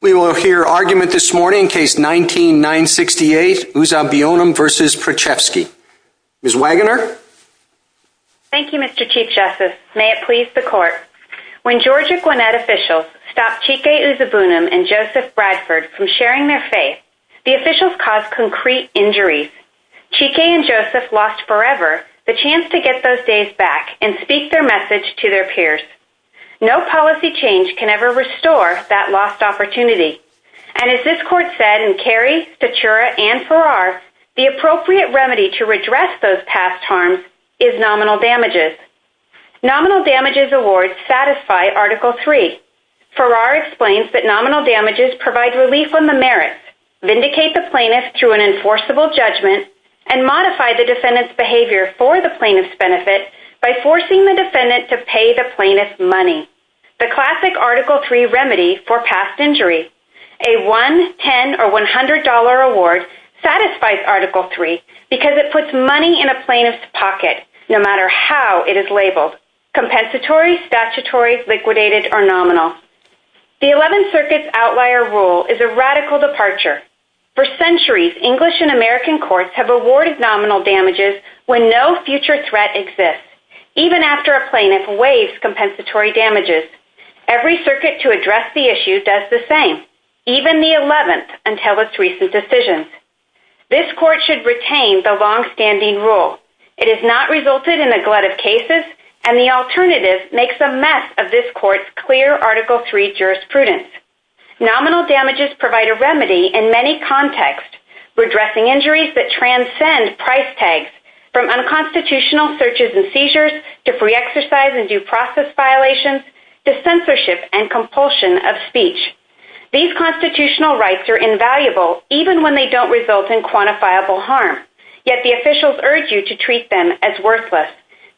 We will hear argument this morning, case 19-968 Uzabunam v. Preczewski Ms. Wagoner Thank you, Mr. Chief Justice. May it please the Court When Georgia Gwinnett officials stopped Cheekay Uzabunam and Joseph Bradford from sharing their faith, the officials caused concrete injuries. Cheekay and Joseph lost forever the chance to get those days back and speak their message to their peers. No policy change can ever restore that lost opportunity. And as this Court said in Carey, Fatura, and Farrar, the appropriate remedy to redress those past harms is nominal damages. Nominal damages awards satisfy Article III. Farrar explains that nominal damages provide relief on the merits, vindicate the plaintiff through an enforceable judgment, and modify the defendant's behavior for the plaintiff's benefit by forcing the defendant to pay the plaintiff money. The classic Article III remedy for past injury. A $1, $10, or $100 award satisfies Article III because it puts money in a plaintiff's pocket, no matter how it is labeled, compensatory, statutory, liquidated, or nominal. The Eleventh Circuit's outlier rule is a radical departure. For centuries, English and American courts have awarded nominal damages when no future threat exists, even after a plaintiff waives compensatory damages. Every circuit to address the issue does the same, even the Eleventh until its recent decision. This Court should retain the longstanding rule. It has not resulted in a glut of cases, and the alternative makes a mess of this Court's clear Article III jurisprudence. Nominal damages provide a remedy in many contexts, redressing injuries that transcend price tags, from unconstitutional searches and seizures, to free exercise and due process violations, to censorship and compulsion of speech. These constitutional rights are invaluable, even when they don't result in quantifiable harm, yet the officials urge you to treat them as worthless.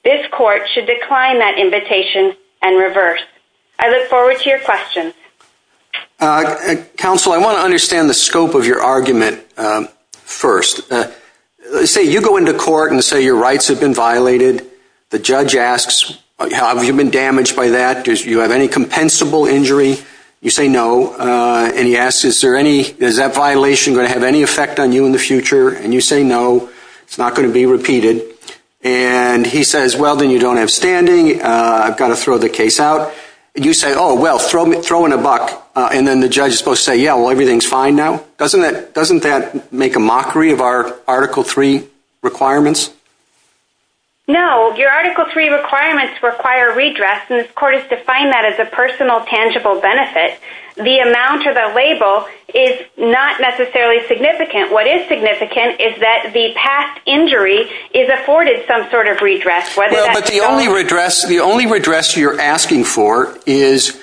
This Court should decline that invitation and reverse. I look forward to your questions. Counsel, I want to understand the scope of your argument first. Say you go into court and say your rights have been violated. The judge asks, have you been damaged by that? Do you have any compensable injury? You say no, and he asks, is that violation going to have any effect on you in the future? And you say no, it's not going to be repeated. And he says, well, then you don't have standing, I've got to throw the case out. You say, oh, well, throw in a buck, and then the judge is supposed to say, yeah, well, everything's fine now. Doesn't that make a mockery of our Article III requirements? No, your Article III requirements require redress, and this Court has defined that as a personal, tangible benefit. The amount of a label is not necessarily significant. What is significant is that the past injury is afforded some sort of redress, But the only redress you're asking for is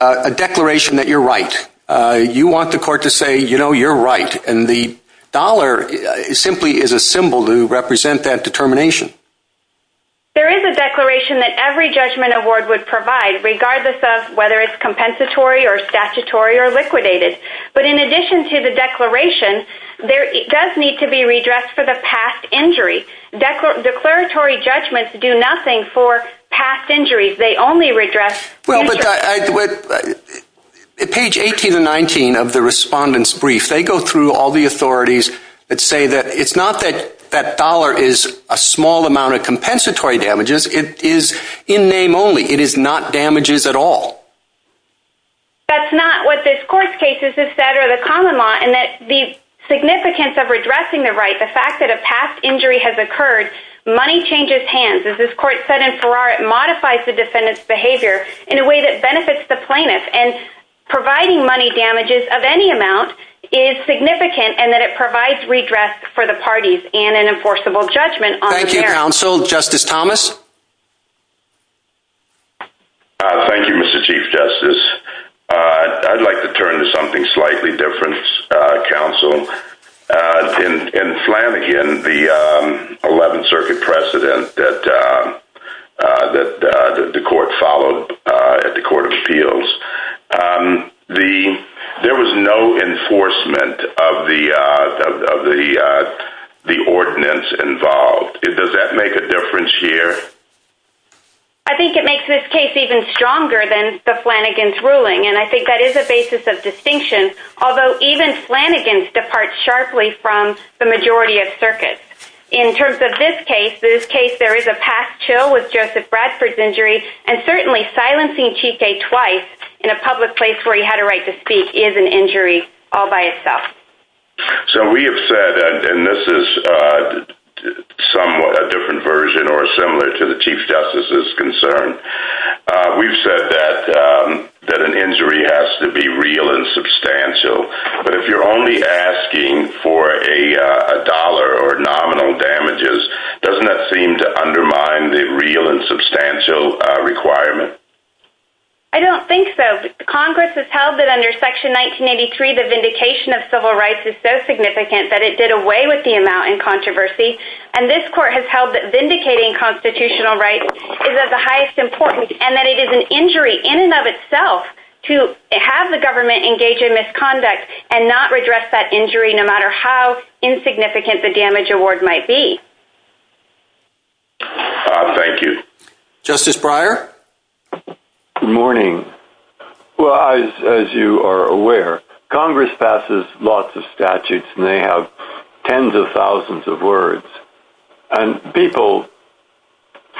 a declaration that you're right. You want the Court to say, you know, you're right, and the dollar simply is a symbol to represent that determination. There is a declaration that every judgment award would provide, regardless of whether it's compensatory or statutory or liquidated. But in addition to the declaration, there does need to be redress for the past injury. Declaratory judgments do nothing for past injuries. They only redress... Well, look, page 18 and 19 of the Respondent's Brief, they go through all the authorities that say that it's not that that dollar is a small amount of compensatory damages. It is in name only. It is not damages at all. That's not what this Court's cases have said or the common law, and that the significance of redressing the right, the fact that a past injury has occurred, money changes hands. As this Court said in Farrar, it modifies the defendant's behavior in a way that benefits the plaintiff. And providing money damages of any amount is significant and that it provides redress for the parties and an enforceable judgment on their... Thank you, Counsel. Justice Thomas? Thank you, Mr. Chief Justice. I'd like to turn to something slightly different, Counsel. In Flanagan, the 11th Circuit precedent that the Court followed at the Court of Appeals, there was no enforcement of the ordinance involved. Does that make a difference here? I think it makes this case even stronger than the Flanagan's ruling, and I think that is a basis of distinction. Although even Flanagan's departs sharply from the majority of circuits. In terms of this case, there is a past chill with Joseph Bradford's injury, and certainly silencing Cheekay twice in a public place where he had a right to speak is an injury all by itself. So we have said, and this is somewhat a different version or similar to the Chief Justice's concern, we've said that an injury has to be real and substantial. But if you're only asking for a dollar or nominal damages, doesn't that seem to undermine the real and substantial requirement? I don't think so. Congress has held that under Section 1983 the vindication of civil rights is so significant that it did away with the amount in controversy, and this court has held that vindicating constitutional rights is of the highest importance and that it is an injury in and of itself to have the government engage in misconduct and not redress that injury no matter how insignificant the damage award might be. Thank you. Justice Breyer? Good morning. As you are aware, Congress passes lots of statutes, and they have tens of thousands of words, and people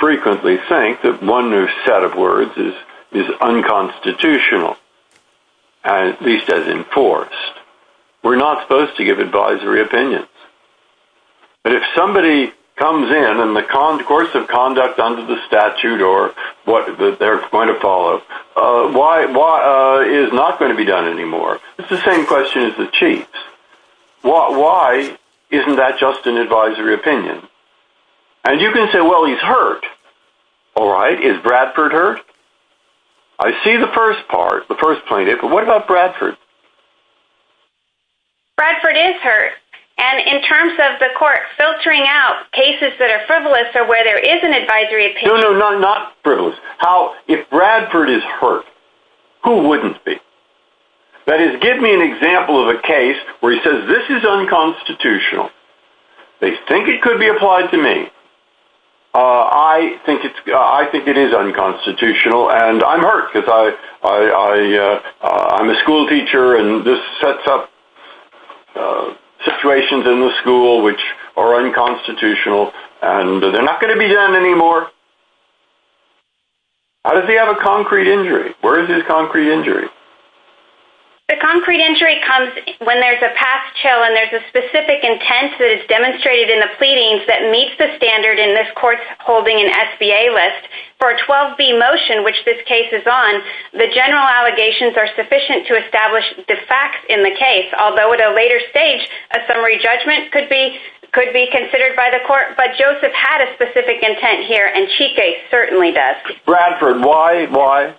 frequently think that one new set of words is unconstitutional, at least as enforced. We're not supposed to give advisory opinions. But if somebody comes in and the course of conduct under the statute or their point of follow is not going to be done anymore, it's the same question as the Chiefs. Why isn't that just an advisory opinion? And you can say, well, he's hurt. All right, is Bradford hurt? I see the first part, the first plaintiff, but what about Bradford? Bradford is hurt. And in terms of the court filtering out cases that are frivolous or where there is an advisory opinion... No, no, not frivolous. If Bradford is hurt, who wouldn't be? That is, give me an example of a case where he says this is unconstitutional. They think it could be applied to me. I think it is unconstitutional, and I'm hurt because I'm a school teacher and this sets up situations in the school which are unconstitutional, and they're not going to be done anymore. How does he have a concrete injury? Where is his concrete injury? The concrete injury comes when there's a past chill and there's a specific intent that is demonstrated in the pleadings that meets the standard in this court's holding an SBA list. For a 12B motion, which this case is on, the general allegations are sufficient to establish the facts in the case, although at a later stage, a summary judgment could be considered by the court, but Joseph had a specific intent here, and Chica certainly does. Bradford, why? Why?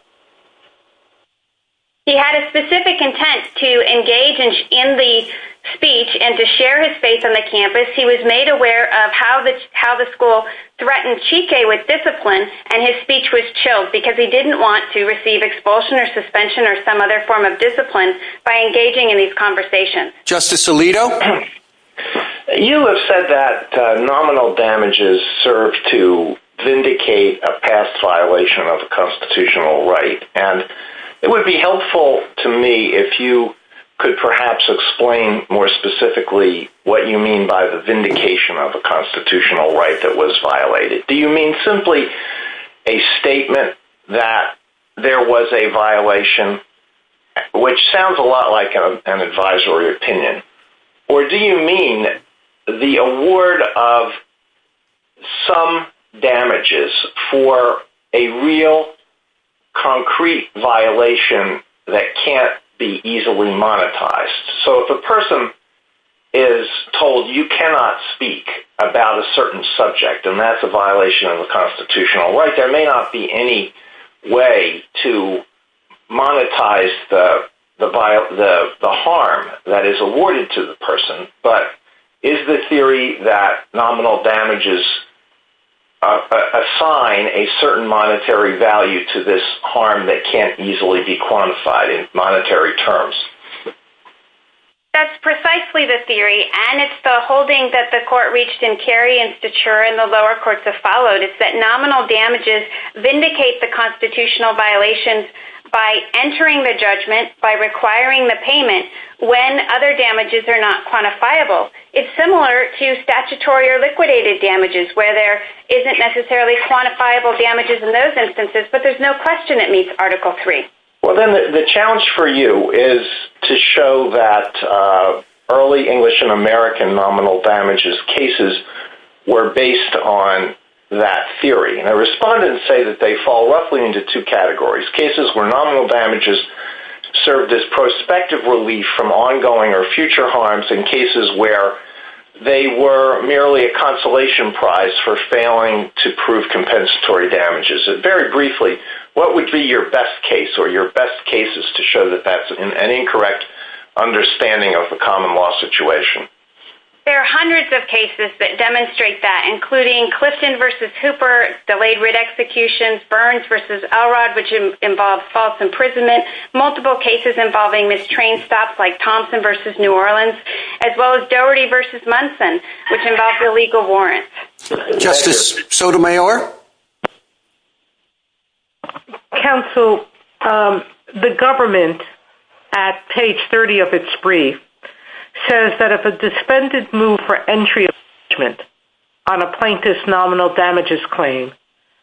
He had a specific intent to engage in the speech and to share his faith on the campus. He was made aware of how the school threatened Chica with discipline, and his speech was chilled because he didn't want to receive expulsion or suspension or some other form of discipline by engaging in these conversations. Justice Alito? You have said that nominal damages serve to vindicate a past violation of a constitutional right, and it would be helpful to me if you could perhaps explain more specifically what you mean by the vindication of a constitutional right that was violated. Do you mean simply a statement that there was a violation, which sounds a lot like an advisory opinion, or do you mean the award of some damages for a real, concrete violation that can't be easily monetized? So if a person is told you cannot speak about a certain subject, and that's a violation of a constitutional right, there may not be any way to monetize the harm that is awarded to the person, but is the theory that nominal damages assign a certain monetary value to this harm that can't easily be quantified in monetary terms? That's precisely the theory, and it's the holding that the Court reached in Kerry and Stature and the lower courts have followed. It's that nominal damages vindicate the constitutional violation by entering the judgment, by requiring the payment, when other damages are not quantifiable. It's similar to statutory or liquidated damages, where there isn't necessarily quantifiable damages in those instances, but there's no question it meets Article III. Well, then the challenge for you is to show that early English and American nominal damages cases were based on that theory, and the respondents say that they fall roughly into two categories, cases where nominal damages served as prospective relief from ongoing or future harms, and cases where they were merely a consolation prize for failing to prove compensatory damages. Very briefly, what would be your best case, or your best cases to show that that's an incorrect understanding of the common law situation? There are hundreds of cases that demonstrate that, including Clifton v. Hooper's delayed writ execution, Burns v. Elrod, which involves false imprisonment, multiple cases involving mistrained staff like Thompson v. New Orleans, as well as Dougherty v. Munson, which involves illegal warrants. Justice Sotomayor? Counsel, the government, at page 30 of its brief, says that if a disbanded move for entry of judgment on a plaintiff's nominal damages claim,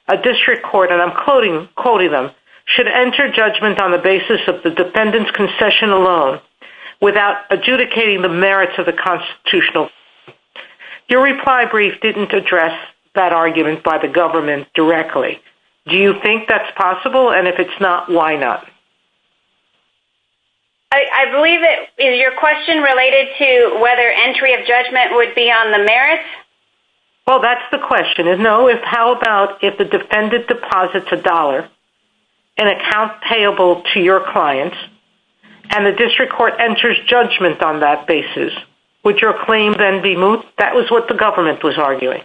a district court, and I'm quoting them, should enter judgment on the basis of the defendant's concession alone without adjudicating the merits of the constitutional... Your reply brief didn't address that argument by the government directly. Do you think that's possible? And if it's not, why not? I believe that your question related to whether entry of judgment would be on the merits? Well, that's the question. No, it's how about if the defendant deposits a dollar, an account payable to your client, and the district court enters judgment on that basis. Would your claim then be moved? That was what the government was arguing.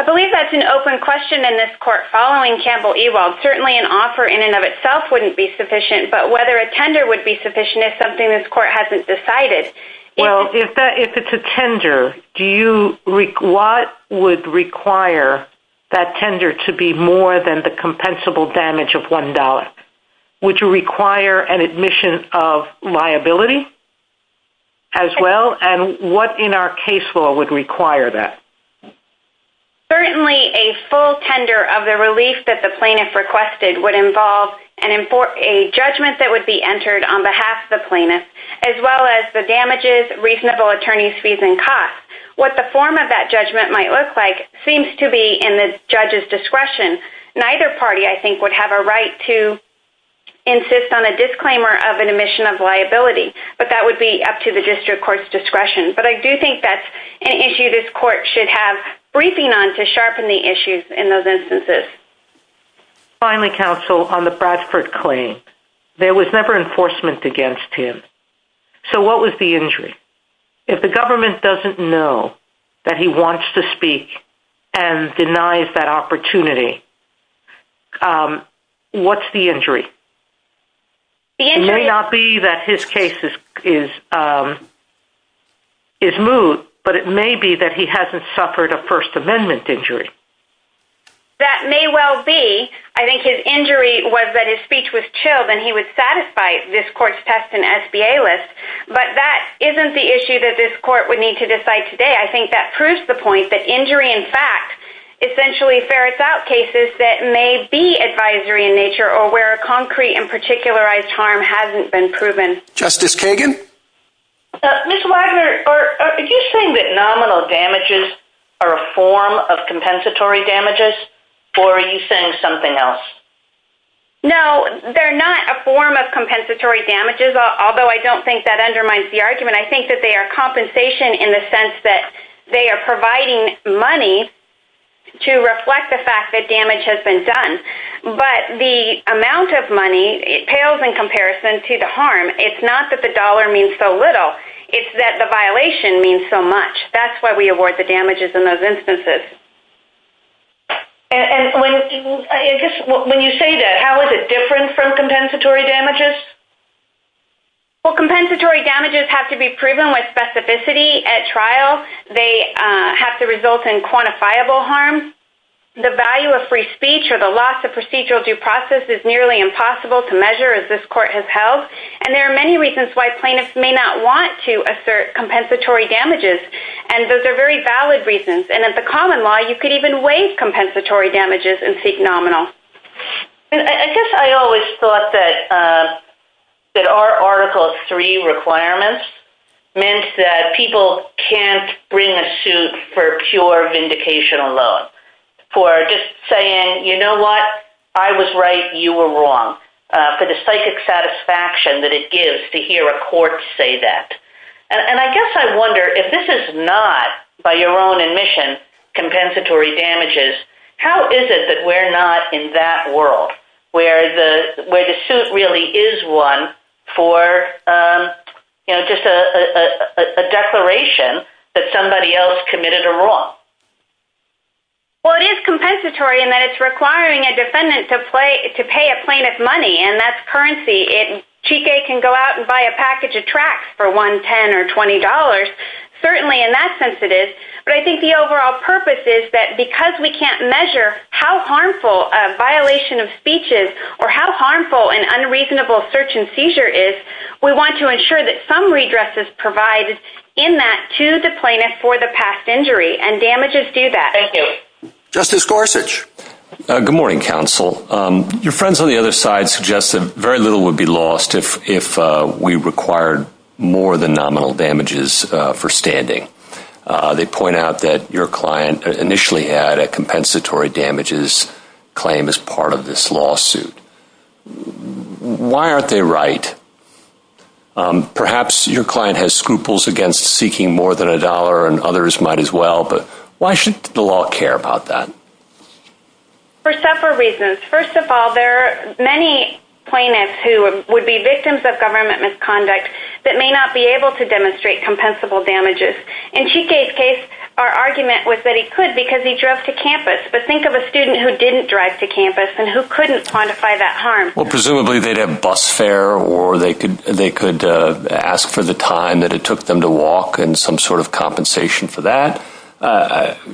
I believe that's an open question, and this court following Campbell-Ewald, certainly an offer in and of itself wouldn't be sufficient, but whether a tender would be sufficient is something this court hasn't decided. Well, if it's a tender, what would require that tender to be more than the compensable damage of $1? Would you require an admission of liability as well? And what in our case law would require that? Certainly a full tender of the relief that the plaintiff requested would involve a judgment that would be entered on behalf of the plaintiff as well as the damages, reasonable attorney's fees and costs. What the form of that judgment might look like seems to be in the judge's discretion. Neither party, I think, would have a right to insist on a disclaimer of an admission of liability, but that would be up to the district court's discretion. But I do think that's an issue this court should have briefing on to sharpen the issues in those instances. Finally, counsel, on the Bradford claim, there was never enforcement against him. So what was the injury? If the government doesn't know that he wants to speak and denies that opportunity, what's the injury? It may not be that his case is moot, but it may be that he hasn't suffered a First Amendment injury. That may well be. I think his injury was that his speech was chilled and he would satisfy this court's test and SBA list, but that isn't the issue that this court would need to decide today. I think that proves the point that injury, in fact, essentially ferrets out cases that may be advisory in nature or where a concrete and particularized harm hasn't been proven. Justice Kagan? Ms. Wagner, are you saying that nominal damages are a form of compensatory damages, or are you saying something else? No, they're not a form of compensatory damages, although I don't think that undermines the argument. I think that they are compensation in the sense that they are providing money to reflect the fact that damage has been done. But the amount of money pales in comparison to the harm. It's not that the dollar means so little. It's that the violation means so much. That's why we award the damages in those instances. And when you say that, how is it different from compensatory damages? Well, compensatory damages have to be proven with specificity at trial. They have to result in quantifiable harm. The value of free speech or the loss of procedural due process is nearly impossible to measure, as this court has held. And there are many reasons why plaintiffs may not want to assert compensatory damages, and those are very valid reasons. And as a common law, you could even waive compensatory damages and seek nominal. I guess I always thought that our Article III requirements meant that people can't bring a suit for pure vindication alone. For just saying, you know what, I was right, you were wrong. For the psychic satisfaction that it gives to hear a court say that. And I guess I wonder, if this is not, by your own admission, compensatory damages, how is it that we're not in that world where the suit really is one for just a declaration that somebody else committed a wrong? Well, it is compensatory in that it's requiring a defendant to pay a plaintiff money, and that's currency. Cheeky can go out and buy a package of tracks for $1.10 or $20, certainly in that sense it is. But I think the overall purpose is that because we can't measure how harmful a violation of speech is or how harmful an unreasonable search and seizure is, we want to ensure that some redress is provided in that to the plaintiff for the past injury, and damages do that. Justice Gorsuch. Good morning, counsel. Your friends on the other side suggested that very little would be lost if we required more than nominal damages for standing. They point out that your client initially had a compensatory damages claim as part of this lawsuit. Why aren't they right? Perhaps your client has scruples against seeking more than $1, and others might as well, but why should the law care about that? For several reasons. First of all, there are many plaintiffs who would be victims of government misconduct that may not be able to demonstrate compensable damages. In Cheeky's case, our argument was that he could because he drove to campus. But think of a student who didn't drive to campus and who couldn't quantify that harm. Presumably they'd have bus fare or they could ask for the time it took them to walk and some sort of compensation for that.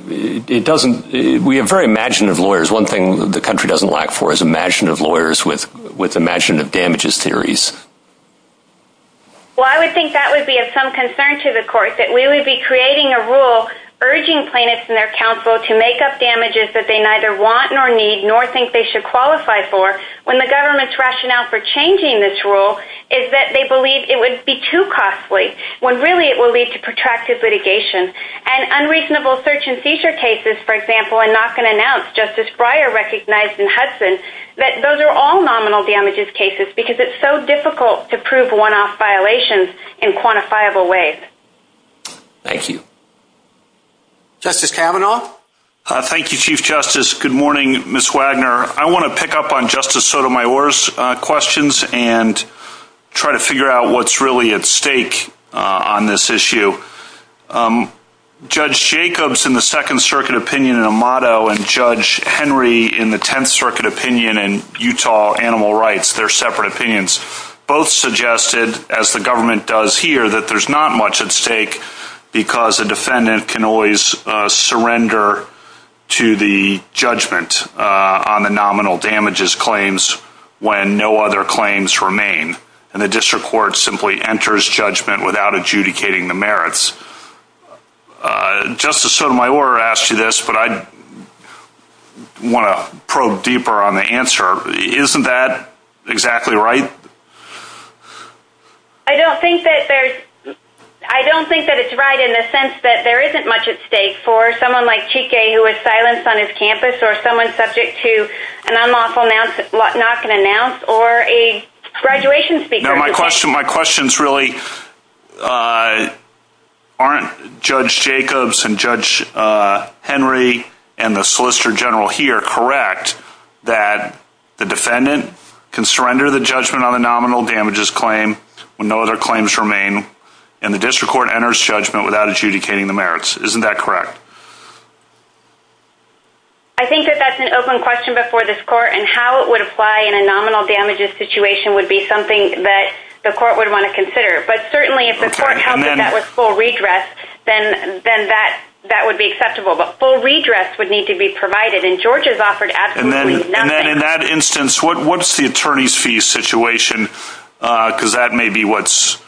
We have very imaginative lawyers. One thing the country doesn't lack for is imaginative lawyers with imaginative damages theories. I would think that would be of some concern to the court that we would be creating a rule urging plaintiffs and their counsel to make up damages that they neither want nor need nor think they should qualify for when the government's rationale for changing this rule is that they believe it would be too costly when really it will lead to protracted litigation. And unreasonable search and seizure cases, for example, I'm not going to announce, Justice Breyer recognized in Hudson that those are all nominal damages cases because it's so difficult to prove one-off violations in quantifiable ways. Justice Kavanaugh? Thank you, Chief Justice. Good morning, Ms. Wagner. I want to pick up on Justice Sotomayor's questions and try to figure out what's really at stake on this issue. Judge Jacobs in the Second Circuit opinion in Amato and Judge Henry in the Tenth Circuit opinion in Utah Animal Rights, they're separate opinions. Both suggested, as the government does here, that there's not much at stake because a defendant can always surrender to the judgment on the nominal damages claims when no other claims remain. And the district court simply enters judgment without adjudicating the merits. Justice Sotomayor asked you this, but I want to probe deeper on the answer. Isn't that exactly right? I don't think that there's... I don't think that it's right in the sense that there isn't much at stake for someone like Chique who was silenced on his campus or someone subject to an unlawful not-going-to-announce or a graduation speaker. My questions really aren't are Judge Jacobs and Judge Henry and the Solicitor General here correct that the defendant can surrender the judgment on the nominal damages claim when no other claims remain and the district court enters judgment without adjudicating the merits. Isn't that correct? I think that that's an open question before this Court and how it would apply in a nominal damages situation would be something that the Court would want to consider. But certainly if the Court held that that was full redress, then that would be acceptable. But full redress would need to be provided and George has offered absolutely nothing. And then in that instance, what's the attorney's fee situation? Because that may be what's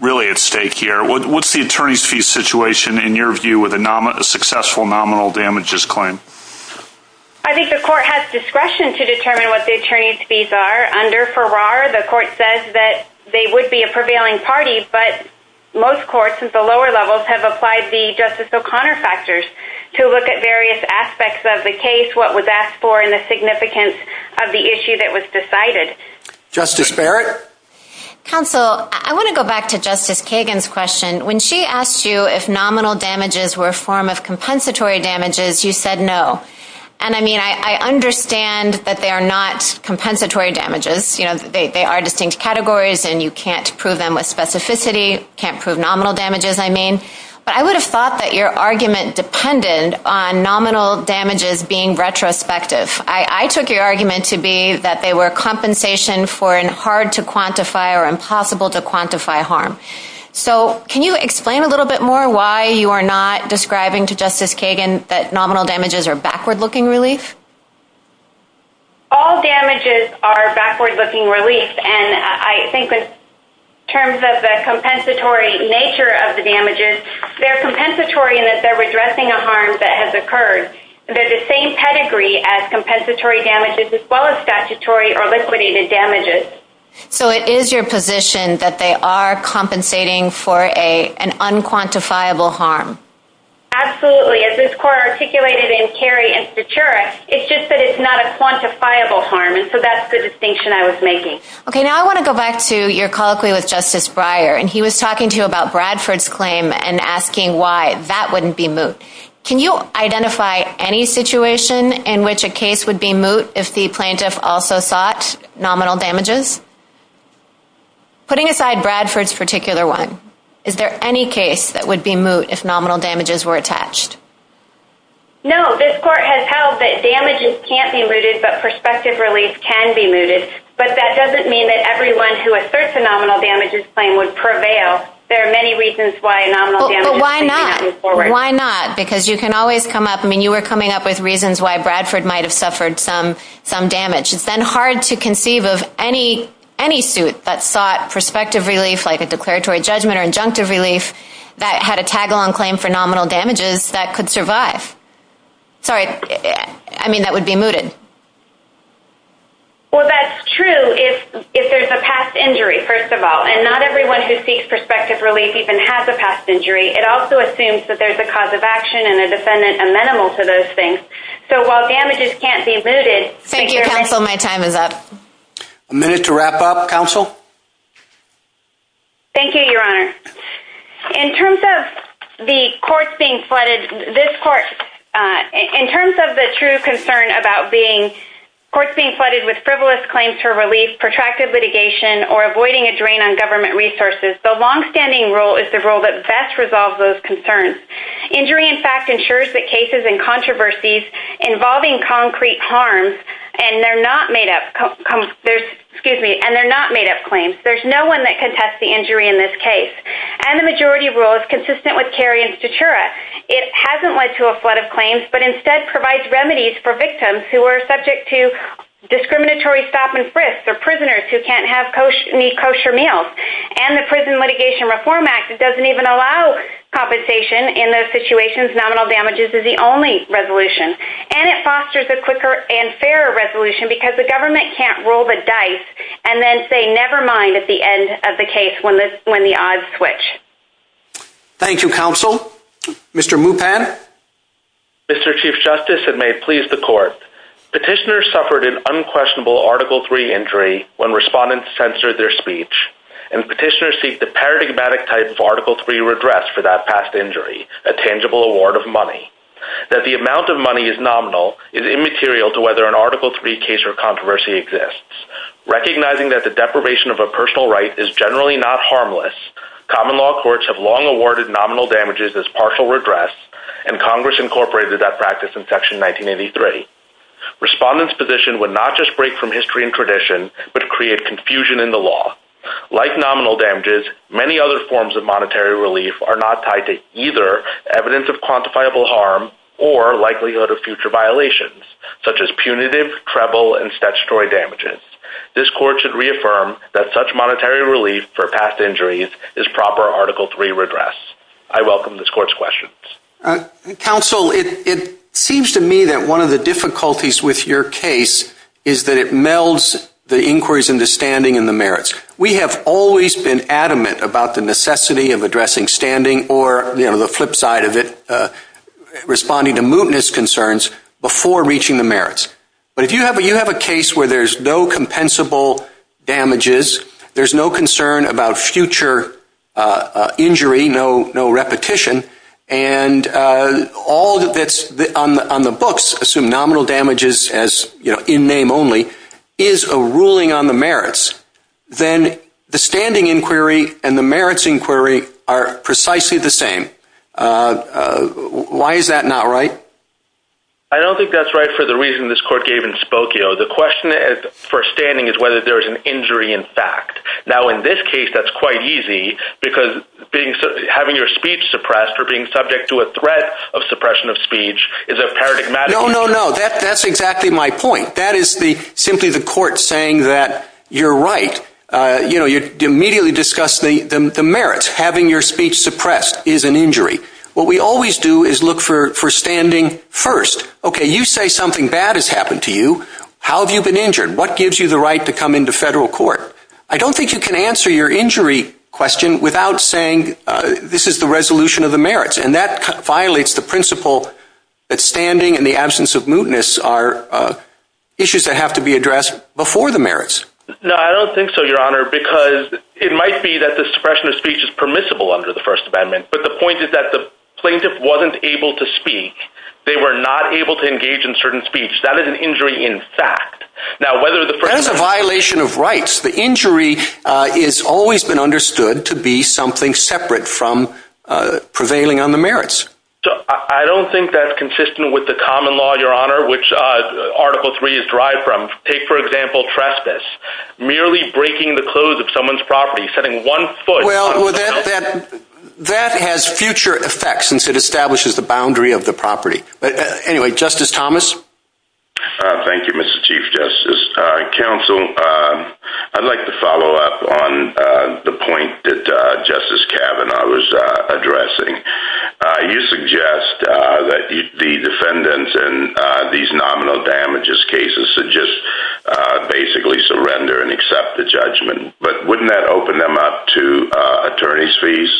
really at stake here. What's the attorney's fee situation in your view with a successful nominal damages claim? I think the Court has discretion to determine what the attorney's fees are. Under Farrar, the Court says that they would be a prevailing party but most courts at the lower levels have applied the Justice O'Connor factors to look at various aspects of the case, what was asked for and the significance of the issue that was decided. Justice Barrett? Counsel, I want to go back to Justice Kagan's question. When she asked you if nominal damages were a form of compensatory damages, you said no. And I understand that they are not compensatory damages. They are distinct categories and you can't prove them with specificity, But I would have thought that your argument is dependent on nominal damages being retrospective. I took your argument to be that they were compensation for a hard-to-quantify or impossible-to-quantify harm. So can you explain a little bit more why you are not describing to Justice Kagan that nominal damages are backward-looking relief? All damages are backward-looking relief and I think that in terms of the compensatory nature of the damages, they are compensatory in that they are addressing a harm that has occurred. They are the same pedigree as compensatory damages as well as statutory or liquidated damages. So it is your position that they are compensating for an unquantifiable harm? As this Court articulated in Carey and Stachura, it's just that it's not a quantifiable harm and so that's the distinction I was making. Now I want to go back to your colloquy with Justice Breyer and he was talking to you about Bradford's claim and asking why that wouldn't be moot. Can you identify any situation in which a case would be moot if the plaintiff also sought nominal damages? Putting aside Bradford's particular one, is there any case that would be moot if nominal damages were attached? No, this Court has held that damages can't be mooted but prospective relief can be mooted but that doesn't mean that everyone who asserts a nominal damages claim would prevail. There are many reasons why a nominal damages claim can't be forwarded. Why not? Because you can always come up with reasons why Bradford might have suffered some damage. It's then hard to conceive of any suit that sought prospective relief like a declaratory judgment or injunctive relief that had a tag-along claim for nominal damages that could survive. Sorry, I mean that would be mooted. Well, that's true if there's a past injury, first of all. And not everyone who seeks prospective relief even has a past injury. It also assumes that there's a cause of action and a defendant amenable to those things. So while damages can't be mooted... Thank you, Counsel. My time is up. A minute to wrap up, Counsel. Thank you, Your Honor. In terms of the courts being flooded... In terms of the true concern about courts being flooded with frivolous claims for relief, protracted litigation or avoiding a drain on government resources, the long-standing rule is the rule that best resolves those concerns. Injury, in fact, ensures that cases and controversies involving concrete harms and they're not made up claims. There's no one that can test the injury in this case. And the majority rule is consistent with Kerry and Statura. It hasn't led to a flood of claims, but instead provides remedies for victims who are subject to discriminatory stop-and-frisk or prisoners who can't have any kosher meals. And the Prison Litigation Reform Act doesn't even allow compensation in those situations. Nominal damages is the only resolution. And it fosters a quicker and fairer resolution because the government can't roll the dice and then say, never mind at the end of the case when the odds switch. Thank you, Counsel. Mr. Mupan? Mr. Chief Justice, and may it please the Court, Petitioners suffered an unquestionable Article III injury when respondents censored their speech and Petitioners seek the paradigmatic type of Article III redress for that past injury, a tangible award of money. That the amount of money is nominal is immaterial to whether an Article III case or controversy exists. Recognizing that the deprivation of a personal right is generally not harmless, common law courts have long awarded nominal damages as partial redress and Congress incorporated that practice in Section 1983. Respondents' position would not just break from history and tradition, but create confusion in the law. Like nominal damages, many other forms of monetary relief are not tied to either evidence of quantifiable harm or likelihood of future violations, such as punitive, treble, and statutory damages. This Court should reaffirm that such monetary relief for past injuries is proper Article III redress. I welcome this Court's questions. Counsel, it seems to me that one of the difficulties with your case is that it melds the inquiries into standing and the merits. We have always been adamant about the necessity of addressing standing or, you know, the flip side of it, responding to mootness concerns before reaching the merits. But if you have a case where there's no compensable damages, there's no concern about future injury, no repetition, and all that's on the books assume nominal damages as in name only, is a ruling on the merits, then the standing inquiry and the merits inquiry are precisely the same. Why is that not right? I don't think that's right for the reason this Court gave in Spokio. The question for standing is whether there is an injury in fact. Now, in this case, that's quite easy because having your speech suppressed or being subject to a threat of suppression of speech is a paradigmatic... No, no, no, that's exactly my point. That is simply the Court saying that you're right. You immediately discuss the merits. Having your speech suppressed is an injury. What we always do is look for standing first. Okay, you say something bad has happened to you. How have you been injured? What gives you the right to come into federal court? I don't think you can answer your injury question without saying this is the resolution of the merits. That violates the principle that standing in the absence of mootness are issues that have to be addressed before the merits. No, I don't think so, Your Honor, because it might be that the suppression of speech is permissible under the First Amendment, but the point is that the plaintiff wasn't able to speak. They were not able to engage in certain speech. That is an injury in fact. That is a violation of rights. The injury has always been understood to be something separate from prevailing on the merits. I don't think that's consistent with the common law, Your Honor, which Article 3 is derived from. Take, for example, trespass. Merely breaking the clothes of someone's property, setting one foot... Well, that has future effects since it establishes the boundary of the property. Anyway, Justice Thomas? Thank you, Mr. Chief Justice. Counsel, I'd like to follow up on the point that Justice Kavanaugh was addressing. You suggest that the defendants in these nominal damages cases should just basically surrender and accept the judgment. But wouldn't that open them up to attorney's fees?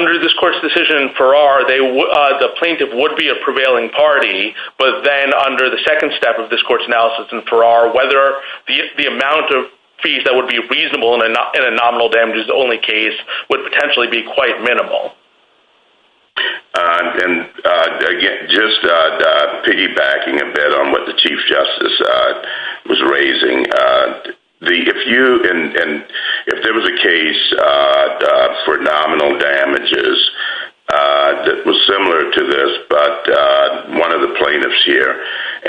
Under this Court's decision in Farrar, the plaintiff would be a prevailing party, but then under the second step of this Court's analysis in Farrar, whether the amount of fees that would be reasonable in a nominal damages only case would potentially be quite minimal. Just piggybacking a bit on what the Chief Justice was raising, if there was a case for nominal damages that was similar to this but one of the plaintiffs here,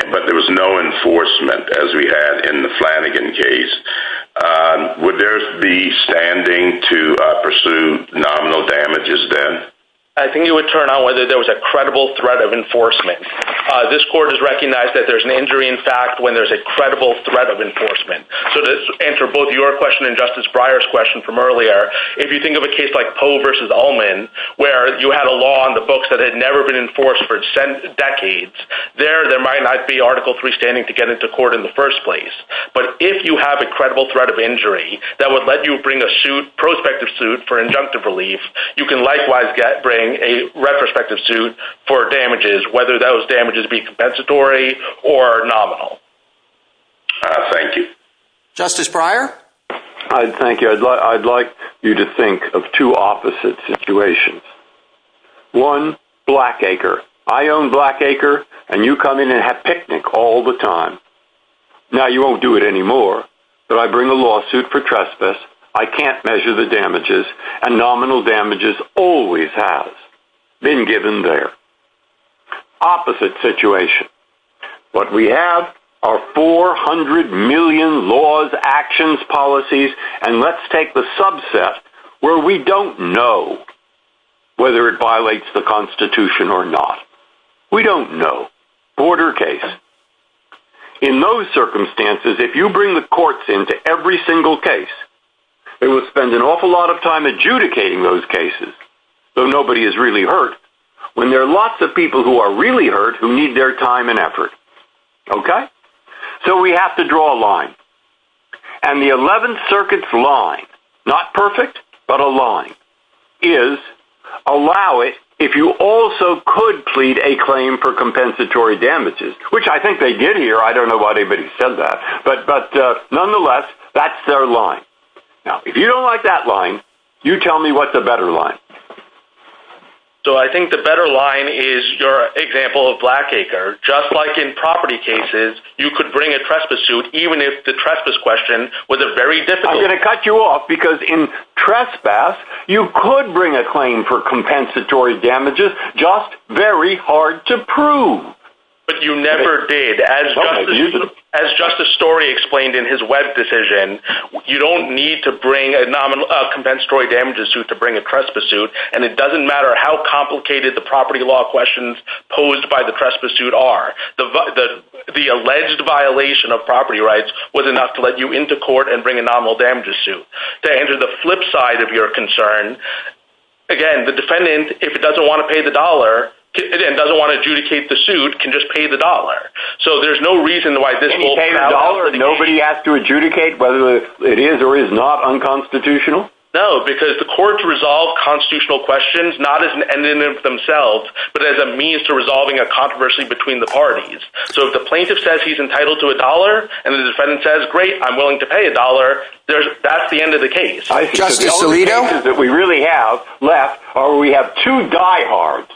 but there was no enforcement as we had in the Flanagan case, would there be standing to pursue nominal damages then? I think you would turn out whether there was a credible threat of enforcement. This Court has recognized that there's an injury in fact when there's a credible threat of enforcement. To answer both your question and Justice Breyer's question from earlier, if you think of a case like Poe v. Ullman where you had a law on the books that had never been enforced for decades, there might not be Article 3 standing to get into court in the first place. But if you have a credible threat of injury that would let you bring a prospective suit for injunctive relief, you can likewise bring a retrospective suit for damages, whether those damages be compensatory or nominal. Thank you. Justice Breyer? I'd like you to think of two opposite situations. One, Blackacre. I own Blackacre and you come in and have picnic all the time. Now you won't do it anymore but I bring a lawsuit for trespass. I can't measure the damages and nominal damages always have been given there. Opposite situation. What we have are 400 million laws, actions, policies and let's take the subset where we don't know whether it violates the Constitution or not. We don't know. Order case. In those circumstances, if you bring the courts into every single case they will spend an awful lot of time adjudicating those cases so nobody is really hurt when there are lots of people who are really hurt who need their time and effort. Okay? So we have to draw a line. And the 11th Circuit's line not perfect but a line is allow it if you also could plead a claim for compensatory damages which I think they did here. I don't know why anybody said that but nonetheless that's their line. Now if you don't like that line you tell me what's a better line. So I think the better line is your example of Blackacre just like in property cases you could bring a trespass suit even if the trespass question was a very difficult I'm going to cut you off because in trespass you could bring a claim for compensatory damages just very hard to prove. But you never did. As Justice Story explained in his web decision you don't need to bring a compensatory damages suit to bring a trespass suit and it doesn't matter how complicated the property law questions posed by the trespass suit are the alleged violation of property rights was enough to let you into court and bring a nominal damages suit. To enter the flip side of your concern again the defendant if he doesn't want to pay the dollar and doesn't want to adjudicate the suit can just pay the dollar. So there's no reason why this will... Nobody has to adjudicate whether it is or is not unconstitutional? No because the court resolves constitutional questions not as an end in themselves but as a means to resolving a controversy between the parties. So if the plaintiff says he's entitled to a dollar and the defendant says great I'm willing to pay a dollar that's the end of the case. Justice Alito? All we have left are two diehards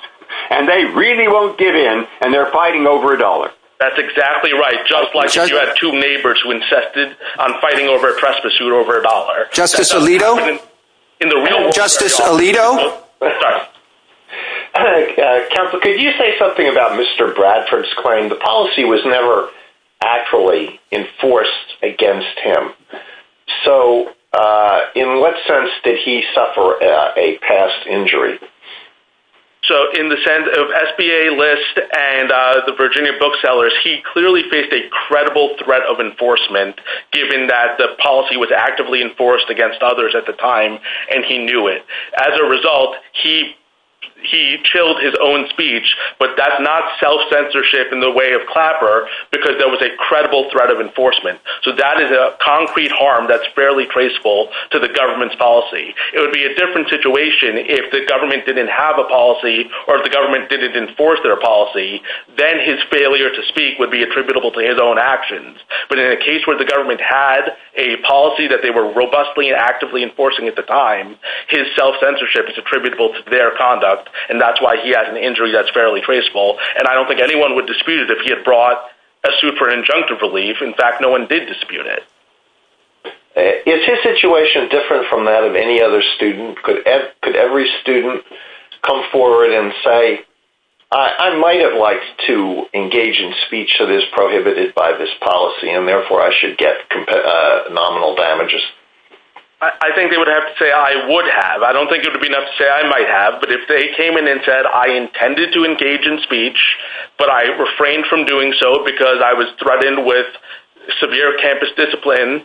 and they really won't give in and they're fighting over a dollar. That's exactly right just like you had two neighbors who insisted on fighting over a trespass suit over a dollar. Justice Alito? Justice Alito? Counselor could you say something about Mr. Bradford's claim the policy was never actually enforced against him. So in what sense did he suffer a past injury? So in the sense of SBA lists and the Virginia booksellers he clearly faced a credible threat of enforcement given that the policy was actively enforced against others at the time and he knew it. As a result he chilled his own speech but that's not self-censorship in the way of Clapper because there was a credible threat of enforcement so that is a concrete harm that's fairly traceable to the government's policy. It would be a different situation if the government didn't have a policy or if the government didn't enforce their policy then his failure to speak would be attributable to his own actions but in a case where the government had a policy that they were robustly and actively enforcing at the time his self-censorship is attributable to their conduct and that's why he had an injury that's fairly traceable and I don't think anyone would dispute it if he had brought a suit for injunctive relief in fact no one did dispute it. Is his situation different from that of any other student? Could every student come forward and say I might have liked to engage in speech that is prohibited by this policy and therefore I should get nominal damages? I think they would have to say I would have I don't think it would be enough to say I might have but if they came in and said I intended to engage in speech but I refrained from doing so because I was threatened with severe campus discipline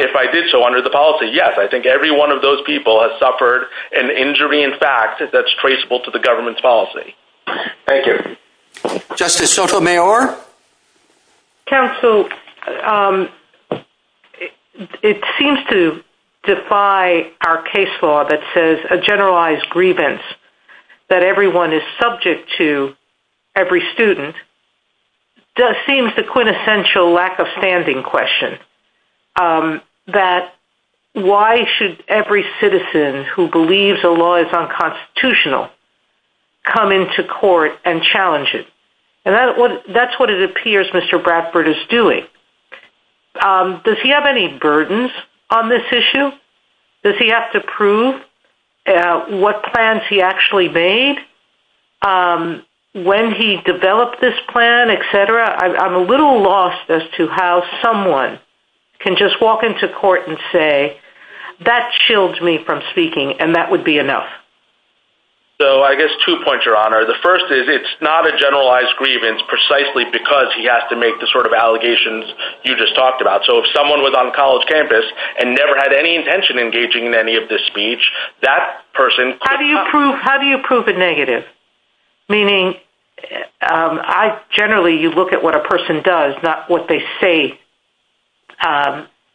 if I did so under the policy yes I think every one of those people has suffered an injury in fact that's traceable to the government's policy. Thank you. Justice Sotomayor? Counsel it seems to defy our case law that says a generalized grievance that everyone is subject to every student seems the quintessential lack of standing question that why should every citizen who believes a law is unconstitutional come into court and challenge it that's what it appears Mr. Bradford is doing does he have any burdens on this issue? does he have to prove what plans he actually made when he developed this plan I'm a little lost as to how someone can just walk into court and say that shields me from speaking and that would be enough so I guess two points your honor the first is it's not a generalized grievance precisely because he has to make the sort of allegations you just talked about so if someone was on college campus and never had any intention of engaging in any of this speech that person how do you prove a negative meaning generally you look at what a person does not what they say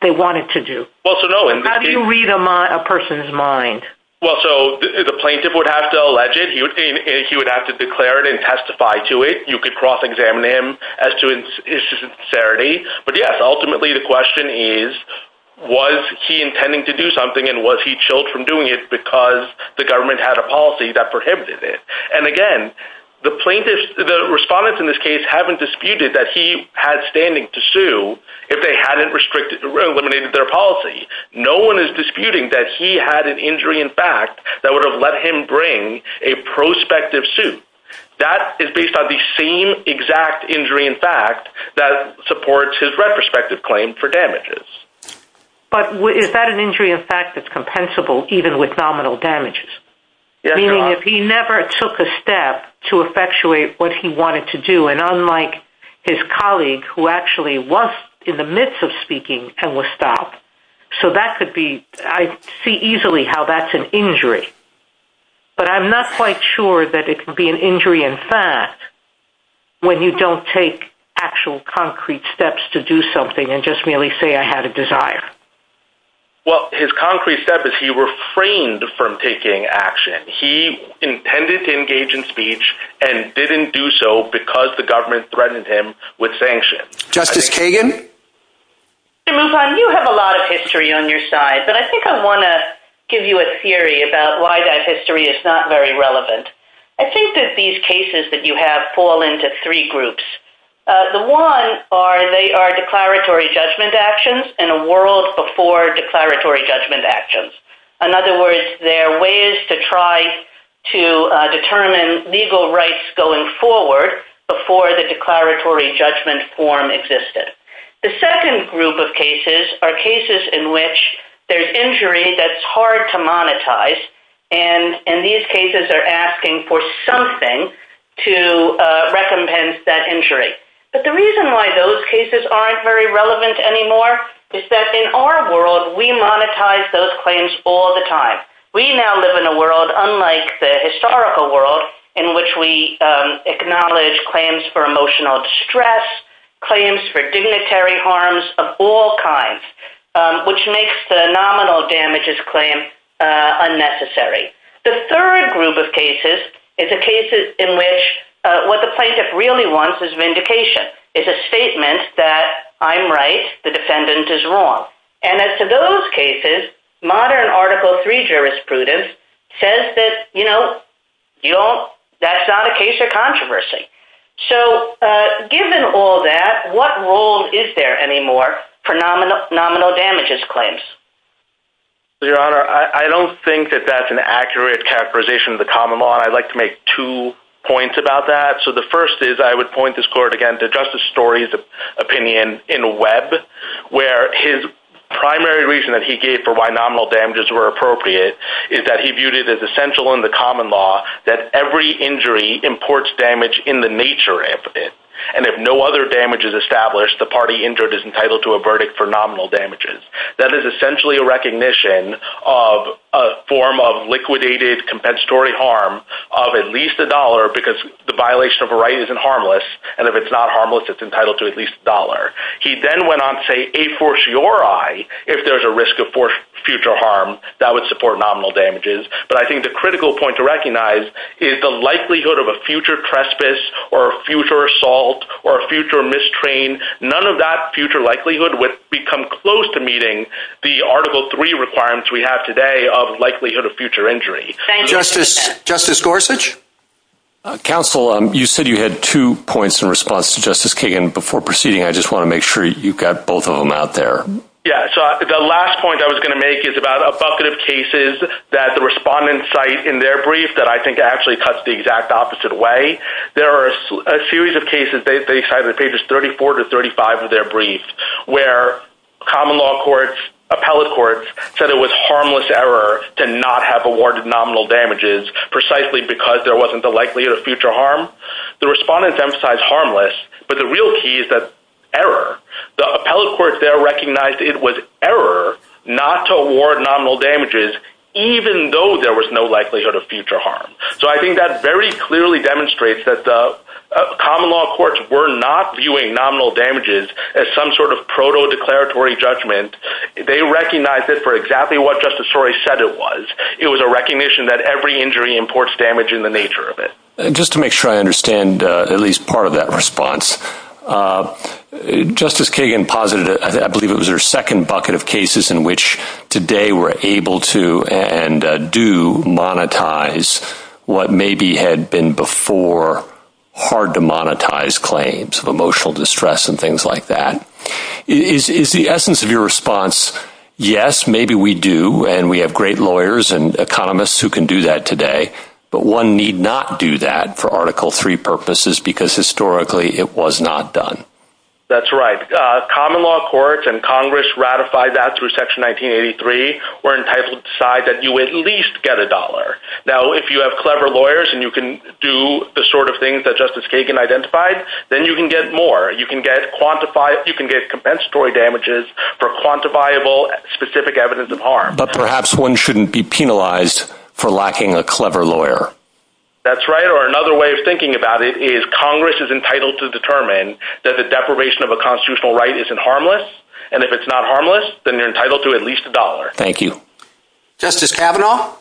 they wanted to do how do you read a person's mind well so the plaintiff would have to allege it he would have to declare it and testify to it you could cross examine him but yes ultimately the question is was he intending to do something and was he chilled from doing it because the government had a policy that prohibited it and again the plaintiff the respondents in this case haven't disputed that he had standing to sue if they hadn't eliminated their policy no one is disputing that he had an injury in fact that would have let him bring a prospective suit that is based on the same exact injury in fact that supports his retrospective claim for damages but is that an injury in fact that's compensable even with nominal damages meaning if he never took a step to effectuate what he wanted to do and unlike his colleague who actually was in the midst of speaking and was stopped so that could be, I see easily how that's an injury but I'm not quite sure that it could be an injury in fact when you don't take actual concrete steps to do something and just merely say I had a desire well his concrete step is he refrained from taking action. He intended to engage in speech and didn't do so because the government threatened him with sanctions. Justice Kagan? Mr. Mufan, you have a lot of history on your side but I think I want to give you a theory about why that history is not very relevant I think that these cases that you have fall into three groups the one are declaratory judgment actions and a world before declaratory judgment actions. In other words there are ways to try to determine legal rights going forward before the declaratory judgment form existed the second group of cases are cases in which there's injury that's hard to monetize and these cases are asking for something to recompense that injury but the reason why those cases aren't relevant anymore is that in our world we monetize those claims all the time we now live in a world unlike the historical world in which we acknowledge claims for emotional distress, claims for dignitary harms of all kinds which makes the nominal damages claim unnecessary the third group of cases is a case in which what the plaintiff really wants is vindication, is a statement that I'm right, the defendant is wrong and as to those cases, modern article 3 jurisprudence says that, you know that's not a case of controversy so given all that, what role is there anymore for nominal damages claims your honor, I don't think that that's an accurate categorization of the common law I'd like to make two points about that so the first is, I would point this court again to Justice Story's opinion in Webb where his primary reason that he gave for why nominal damages were appropriate is that he viewed it as essential in the common law that every injury imports damage in the nature of it and if no other damage is established the party injured is entitled to a verdict for nominal damages that is essentially a recognition of a form of liquidated compensatory harm of at least a dollar, because the violation of a right isn't harmless and if it's not harmless, it's entitled to at least a dollar he then went on to say, a fortiori if there's a risk of future harm, that would support nominal damages, but I think the critical point to recognize is the likelihood of a future trespass or a future assault, or a future mistrain none of that future likelihood would become close to meeting the Article 3 requirements we have today of likelihood of future injury Justice Gorsuch? Counsel, you said you had two points in response to Justice Kagan before proceeding, I just want to make sure you got both of them out there yeah, so the last point I was going to make is about a bucket of cases that the respondents cite in their brief that I think actually cuts the exact opposite way there are a series of cases they cite in pages 34 to 35 of their brief, where common law courts, appellate courts, said it was harmless error to not have awarded nominal damages precisely because there wasn't the likelihood of future harm the respondents emphasize harmless, but the real key is that error. The appellate courts there recognized it was error not to award nominal damages even though there was no likelihood of future harm so I think that very clearly demonstrates that common law courts were not viewing nominal damages as some sort of proto-declaratory judgment they recognized it for exactly what Justice Torrey said it was it was a recognition that every injury imports damage in the nature of it. Just to make sure I understand at least part of that response Justice Kagan posited, I believe it was her second bucket of cases in which today we're able to and do monetize what maybe had been before hard to monetize claims of emotional distress and things like that is the essence of your response yes, maybe we do and we have great lawyers and economists who can do that today but one need not do that for Article 3 purposes because historically it was not done that's right. Common law courts and Congress ratified that through Section 1983 were entitled to decide that you at least get a dollar. Now if you have clever lawyers and you can do the sort of things that Justice Kagan identified then you can get more. You can get compensatory damages for quantifiable specific evidence of harm. But perhaps one shouldn't be penalized for lacking a clever lawyer that's right. Or another way of thinking about it is Congress is entitled to determine that the deprivation of a constitutional right isn't harmless and if it's not harmless then you're entitled to at least a dollar. Thank you. Justice Kavanaugh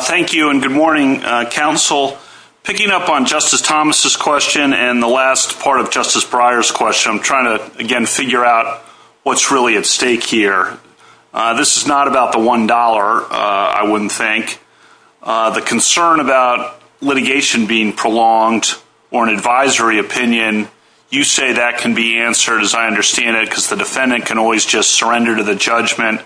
thank you and good morning counsel picking up on Justice Thomas' question and the last part of Justice Breyer's question, I'm trying to again figure out what's really at stake here this is not about the one dollar, I wouldn't think the concern about litigation being prolonged or an advisory opinion you say that can be answered as I understand it because the defendant can always just surrender to the judgment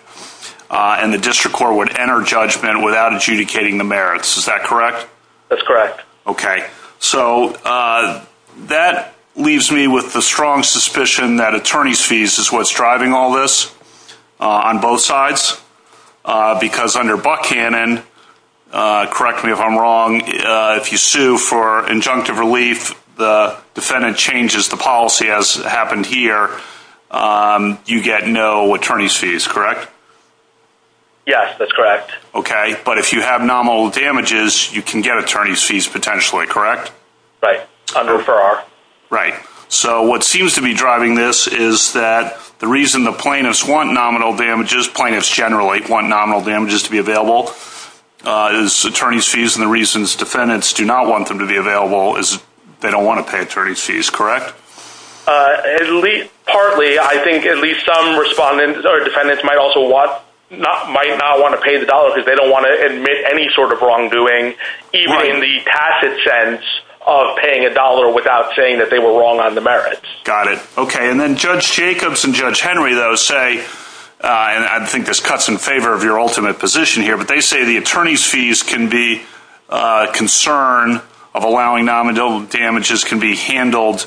and the district court would enter judgment without adjudicating the merits, is that correct? That's correct okay, so that leaves me with the strong suspicion that attorney's fees is what's driving all this on both sides because under Buck Cannon correct me if I'm wrong, if you sue for injunctive relief, the defendant changes the policy as happened here you get no attorney's fees, correct? Yes, that's correct. Okay, but if you have nominal damages, you can get attorney's fees potentially correct? Right, under Farrar So what seems to be driving this is that the reason the plaintiffs want nominal damages, plaintiffs generally want nominal damages to be available is attorney's fees and the reasons defendants do not want them to be available is they don't want to pay attorney's fees correct? At least partly I think at least some defendants might also not want to pay the dollar because they don't want to admit any sort of wrongdoing even in the tacit sense of paying a dollar without saying that they were wrong on the merits. Got it. Okay, and then Judge Jacobs and Judge Henry though say and I think this cuts in favor of your ultimate position here, but they say the attorney's fees can be a concern of allowing nominal damages can be handled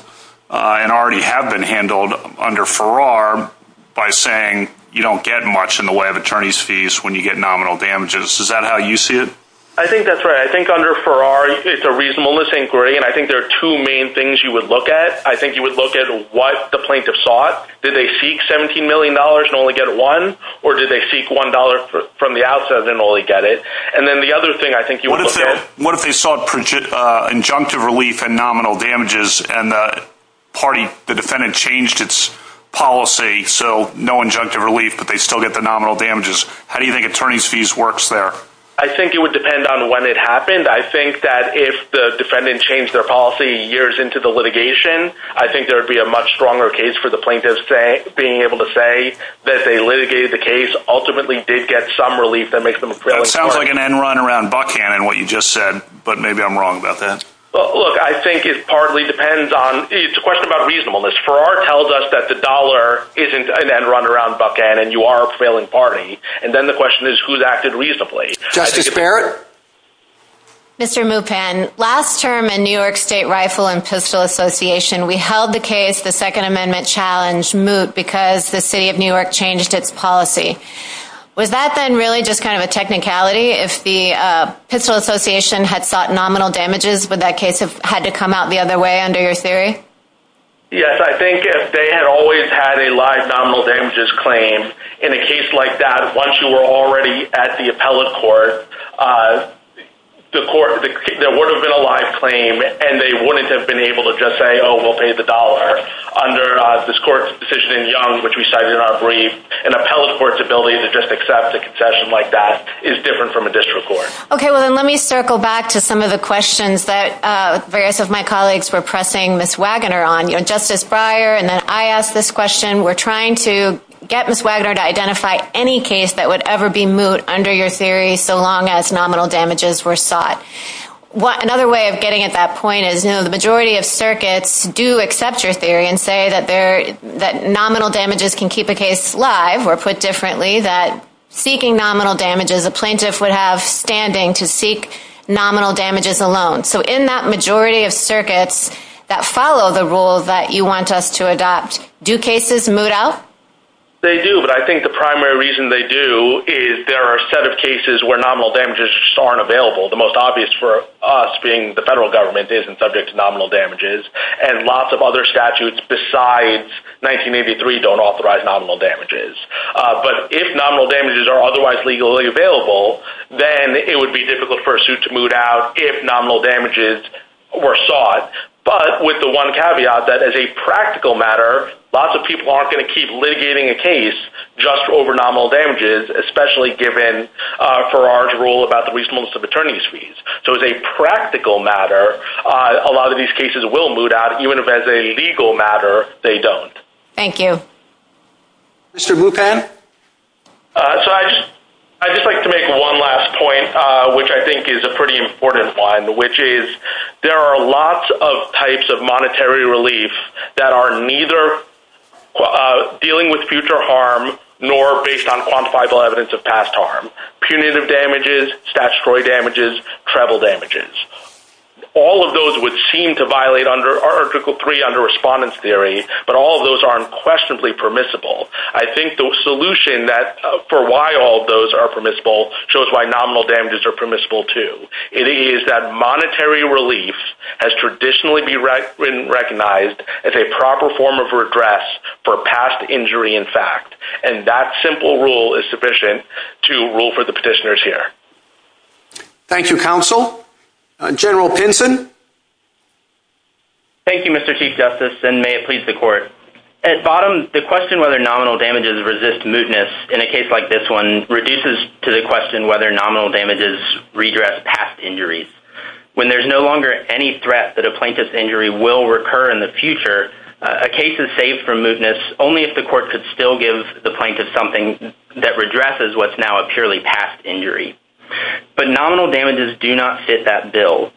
and already have been handled under Farrar by saying you don't get much in the way of attorney's fees when you get nominal damages. Is that how you see it? I think that's right. I think under Farrar it's a reasonable inquiry and I think there are two main things you would look at. I think you would look at what the plaintiff sought. Did they seek $17 million and only get one or did they seek $1 from the outside and only get it? And then the other thing I think you would look at What if they sought injunctive relief and nominal damages and the defendant changed its policy so no injunctive relief but they still get the nominal damages. How do you think attorney's fees works there? I think it would depend on when it happened I think that if the defendant changed their policy years into the litigation I think there would be a much stronger case for the plaintiff being able to say that they litigated the case ultimately did get some relief That sounds like an end run around Buckhannon what you just said but maybe I'm wrong about that. Well look I think it partly depends on, it's a question about reasonableness. Farrar tells us that the dollar isn't an end run around Buckhannon you are a prevailing party and then the question is who's acted reasonably Justice Barrett? Mr. Mupan, last term in New York State Rifle and Pistol Association we held the case the second amendment challenge moot because the city of New York changed its policy. Was that then really just kind of a technicality if the Pistol Association had sought nominal damages would that case have had to come out the other way under your theory? Yes I think if they had always had a live nominal damages claim in a case like that once you were already at the appellate court there would have been a live claim and they wouldn't have been able to just say oh we'll pay the dollar under this court's decision in Young which we cited in our brief an appellate court's ability to just accept a concession like that is different from a district court. Okay well then let me circle back to some of the questions that various of my colleagues were pressing Ms. Wagoner on. Justice Breyer and then I asked this question were trying to get under your theory so long as nominal damages were sought another way of getting at that point is the majority of circuits do accept your theory and say that nominal damages can keep a case live or put differently that seeking nominal damages the plaintiff would have standing to seek nominal damages alone. So in that majority of circuits that follow the rule that you want us to adopt do cases moot out? They do but I think the primary reason they do is there are a set of cases where nominal damages just aren't available. The most obvious for us being the federal government isn't subject to nominal damages and lots of other statutes besides 1983 don't authorize nominal damages. But if nominal damages are otherwise legally available then it would be difficult for a suit to moot out if nominal damages were sought. But with the one caveat that as a practical matter lots of people aren't going to keep litigating a case just over nominal damages especially given Farrar's rule about the reasonableness of attorney's fees. So as a practical matter a lot of these cases will moot out even if as a legal matter they don't. Thank you. Mr. Bupan? I'd just like to make one last point which I think is a pretty important one which is there are lots of types of monetary relief that are neither dealing with future harm nor based on quantifiable evidence of past harm. Punitive damages, statutory damages, travel damages. All of those would seem to violate Article 3 under Respondent's Theory but all of those are unquestionably permissible. I think the solution for why all of those are permissible shows why nominal damages are unquestionably permissible. And that's why monetary relief has traditionally been recognized as a proper form of redress for past injury in fact. And that simple rule is sufficient to rule for the petitioners here. Thank you, Counsel. General Pinson? Thank you, Mr. Chief Justice and may it please the Court. At bottom, the question whether nominal damages resist mootness in a case like this one reduces to the question whether nominal damages redress past injuries. When there's no longer any threat that a plaintiff's injury will recur in the future, a case is saved from mootness only if the Court could still give the plaintiff something that redresses what's now a purely past injury. But nominal damages do not fit that bill.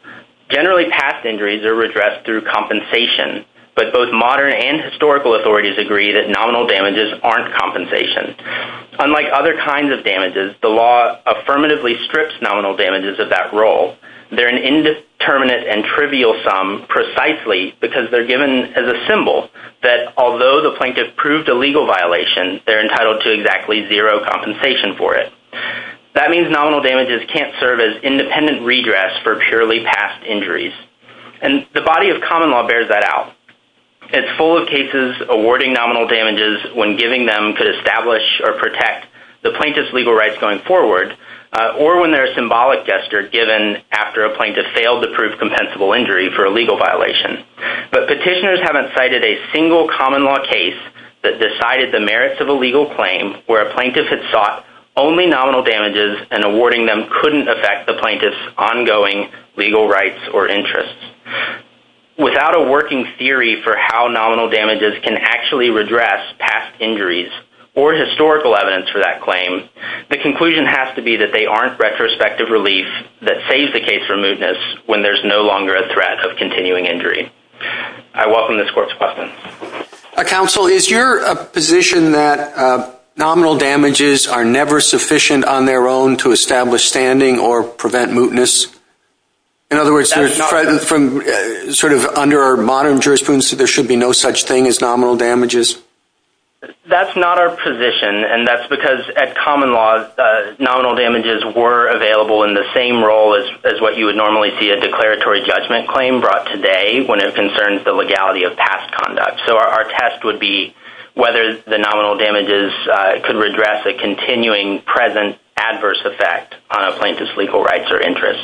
Generally, past injuries are redressed through compensation but both modern and historical authorities agree that nominal damages aren't compensation. Unlike other kinds of damages, the law affirmatively strips nominal damages of that role. They're an indeterminate and trivial sum precisely because they're given as a symbol that although the plaintiff proved a legal violation, they're entitled to exactly zero compensation for it. That means nominal damages can't serve as independent redress for purely past injuries. And the body of common law bears that out. It's full of cases awarding nominal damages when giving them could establish or protect the plaintiff's legal rights going forward or when they're a symbolic gesture given after a plaintiff failed to prove compensable injury for a legal violation. But petitioners haven't cited a single common law case that decided the merits of a legal claim where a plaintiff had sought only nominal damages and awarding them couldn't affect the plaintiff's ongoing legal rights or interests. Without a working theory for how nominal damages can actually redress past injuries or historical evidence for that claim, the conclusion has to be that they aren't retrospective relief that saves the case for mootness when there's no longer a threat of continuing injury. I welcome this court's question. Counsel, is your position that nominal damages are never sufficient on their own to establish standing or prevent mootness? In other words, from sort of under modern jurisprudence that there should be no such thing as nominal damages? That's not our position. And that's because at common law, nominal damages were available in the same role as what you would normally see a declaratory judgment claim brought today when it concerns the legality of past conduct. So our test would be whether the nominal damages could redress the continuing present adverse effect on a plaintiff's legal rights or interests.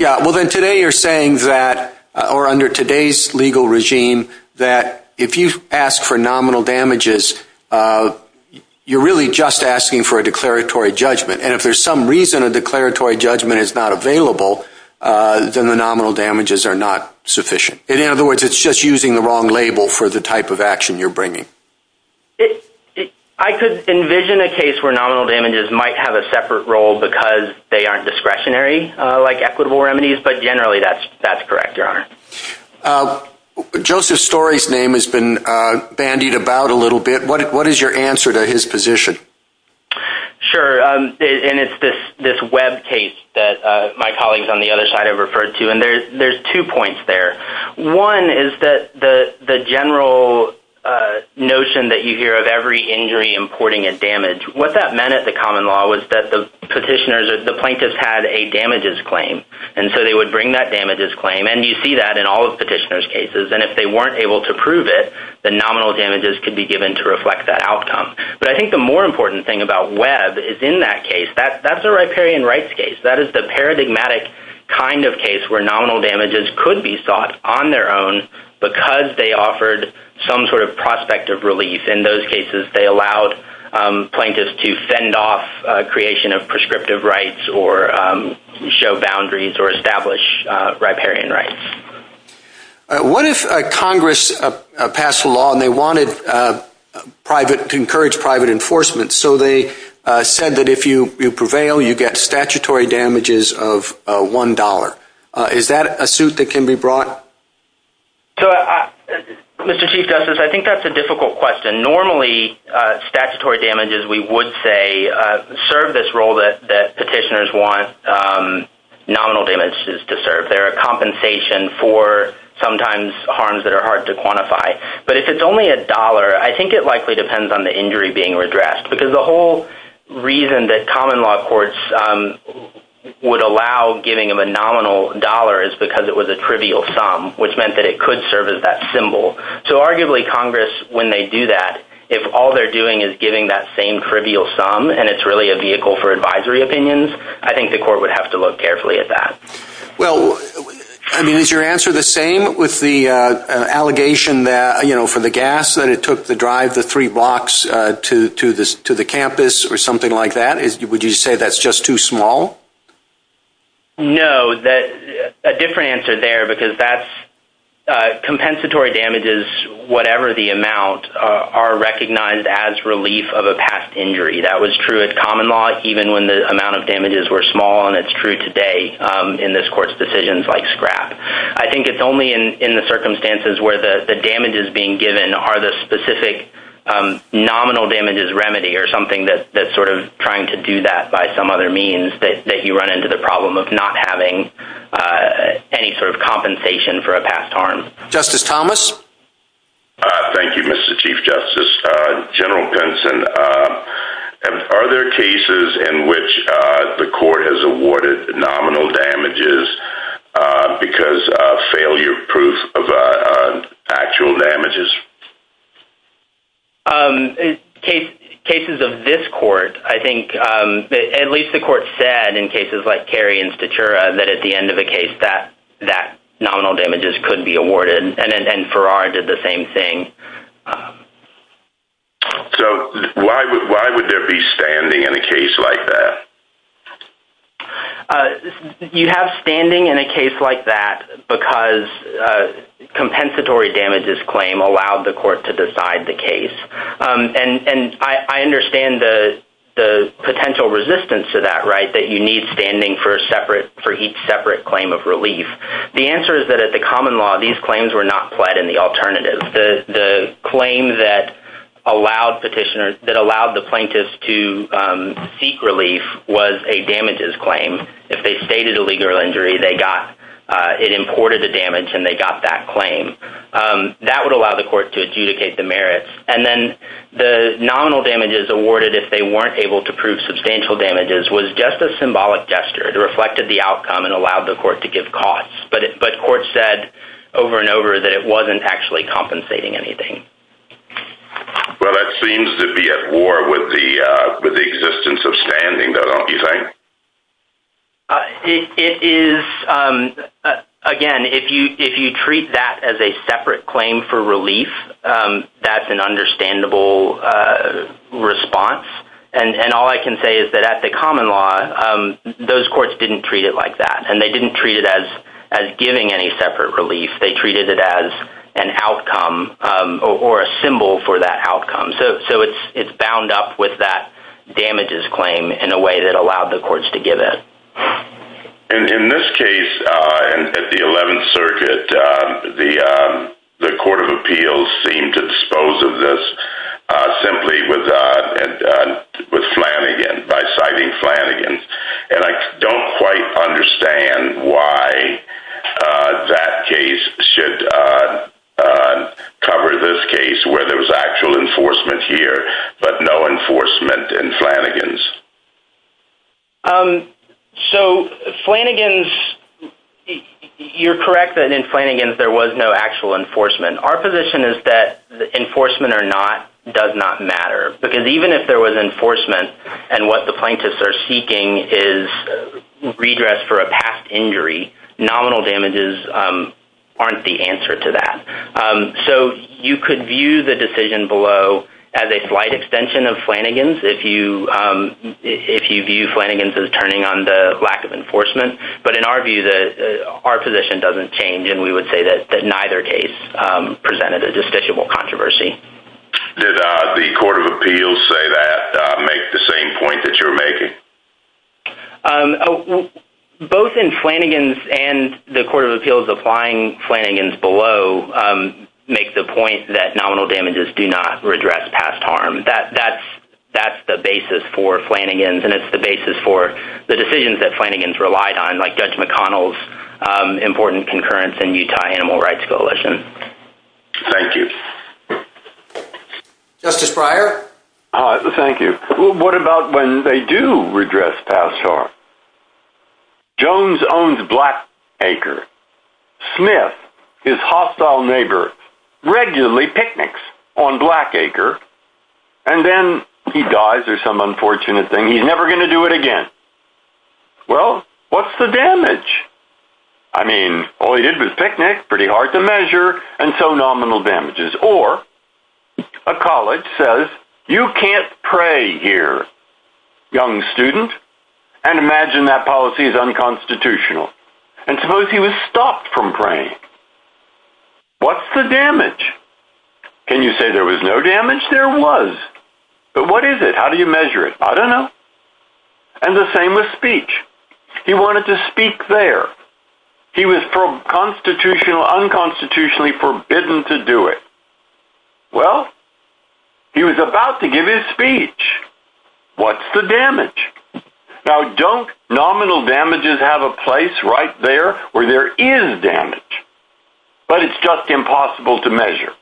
Well, then today you're saying that, or under today's legal regime, that if you ask for nominal damages, you're really just asking for a declaratory judgment. And if there's some reason a declaratory judgment is not available, then the nominal damages are not sufficient. In other words, it's just using the wrong label for the type of I could envision a case where nominal damages might have a separate role because they aren't discretionary like equitable remedies, but generally that's correct, Your Honor. Joseph Story's name has been bandied about a little bit. What is your answer to his position? Sure. And it's this web case that my colleagues on the other side have referred to. And there's two points there. One is that the general notion that you hear of every injury importing a damage, what that meant at the common law was that the petitioners, the plaintiffs had a damages claim. And so they would bring that damages claim. And you see that in all of the petitioners' cases. And if they weren't able to prove it, the nominal damages could be given to reflect that outcome. But I think the more important thing about Web is in that case, that's a riparian rights case. That is the paradigmatic kind of case where nominal damages could be sought on their own because they offered some sort of prospect of relief. In those cases, they allowed plaintiffs to send off creation of prescriptive rights or show boundaries or establish riparian rights. What if Congress passed a law and they wanted to encourage private enforcement? So they said that if you prevail, you get statutory damages of $1. Is that a suit that can be brought? Mr. Chief Justice, I think that's a difficult question. Normally, statutory damages we would say serve this role that petitioners want nominal damages to serve. They're a compensation for sometimes harms that are hard to quantify. But if it's only a dollar, I think it likely depends on the injury being redressed. Because the whole reason that common law courts would allow giving of a nominal dollar is because it was a trivial sum, which meant that it could serve as that symbol. So arguably, Congress, when they do that, if all they're doing is giving that same trivial sum and it's really a vehicle for advisory opinions, I think the court would have to look carefully at that. Is your answer the same with the allegation for the gas that it took to drive the three blocks to the campus or something like that? Would you say that's just too small? No. A different answer there because compensatory damages, whatever the amount, are recognized as relief of a past injury. That was true of common law even when the amount of damages were small and it's true today in this court's decisions like scrap. I think it's only in the circumstances where the damages being given are the specific nominal damages remedy or something that's trying to do that by some other means that you run into the problem of not having any compensation for a past harm. Thank you, Mr. Chief Justice. General Benson, are there cases in which the court has awarded nominal damages because of failure proof of actual damages? Cases of this court, I think at least the court said in cases like Cary and Statura that at the end of a case that nominal damages could be awarded and Farrar did the same thing. Why would there be standing in a case like that? You have standing in a case like that because a compensatory damages claim allowed the court to decide the case. I understand the potential resistance to that, that you need standing for each separate claim of relief. The answer is that at the common law, these claims were not pled in the alternative. The claim that allowed the plaintiffs to seek relief was a damages claim. If they stated a legal injury, it imported the damage and they got that claim. That would allow the court to adjudicate the merits. The nominal damages awarded if they weren't able to prove substantial damages was just a symbolic gesture that reflected the outcome and allowed the court to give costs. The court said over and over that it wasn't actually compensating anything. That seems to be at war with the common law. Again, if you treat that as a separate claim for relief, that's an understandable response. All I can say is that at the common law, those courts didn't treat it like that. They didn't treat it as giving any separate relief. They treated it as an outcome or a symbol for that outcome. It's bound up with that damages claim in a way that allowed the courts to give in. In this case, the 11th Circuit, the Court of Appeals seemed to dispose of this simply with Flanagan by citing Flanagan. I don't quite understand why that case should cover this case where there was actual enforcement here but no enforcement in Flanagan's. Flanagan's, you're correct that in Flanagan's there was no actual enforcement. Our position is that enforcement or not does not matter. Even if there was enforcement and what the plaintiffs are seeking is redress for a past injury, nominal damages aren't the answer to that. You could view the decision below as a slight extension of Flanagan's if you view Flanagan's as turning on the lack of enforcement. In our view, our position doesn't change. We would say that neither case presented a distinguishable controversy. Did the Court of Appeals say that and make the same point that you're making? Both in Flanagan's and the Court of Appeals applying Flanagan's below make the point that nominal damages do not redress past harm. That's the basis for Flanagan's and it's the basis for the decisions that Flanagan's relied on like Judge McConnell's important concurrence in Utah Animal Rights Coalition. Thank you. Justice Breyer? Thank you. What about when they do redress past harm? Jones owns Black Acre. Smith, his hostile neighbor, regularly picnics on Black Acre and then he dies or some unfortunate thing and he's never going to do it again. Well, what's the damage? I mean, all he did was picnic, pretty hard to measure and so nominal damages or a college says, you can't pray here young student and imagine that policy is unconstitutional and suppose he was stopped from praying. What's the damage? Can you say there was no damage? There was. But what is it? How do you measure it? I don't know. And the same with speech. He wanted to speak there. He was constitutionally unconstitutionally forbidden to do it. Well, he was about to give his speech. What's the damage? Now, don't nominal damages have a place right there where there is damage? But it's just impossible to measure.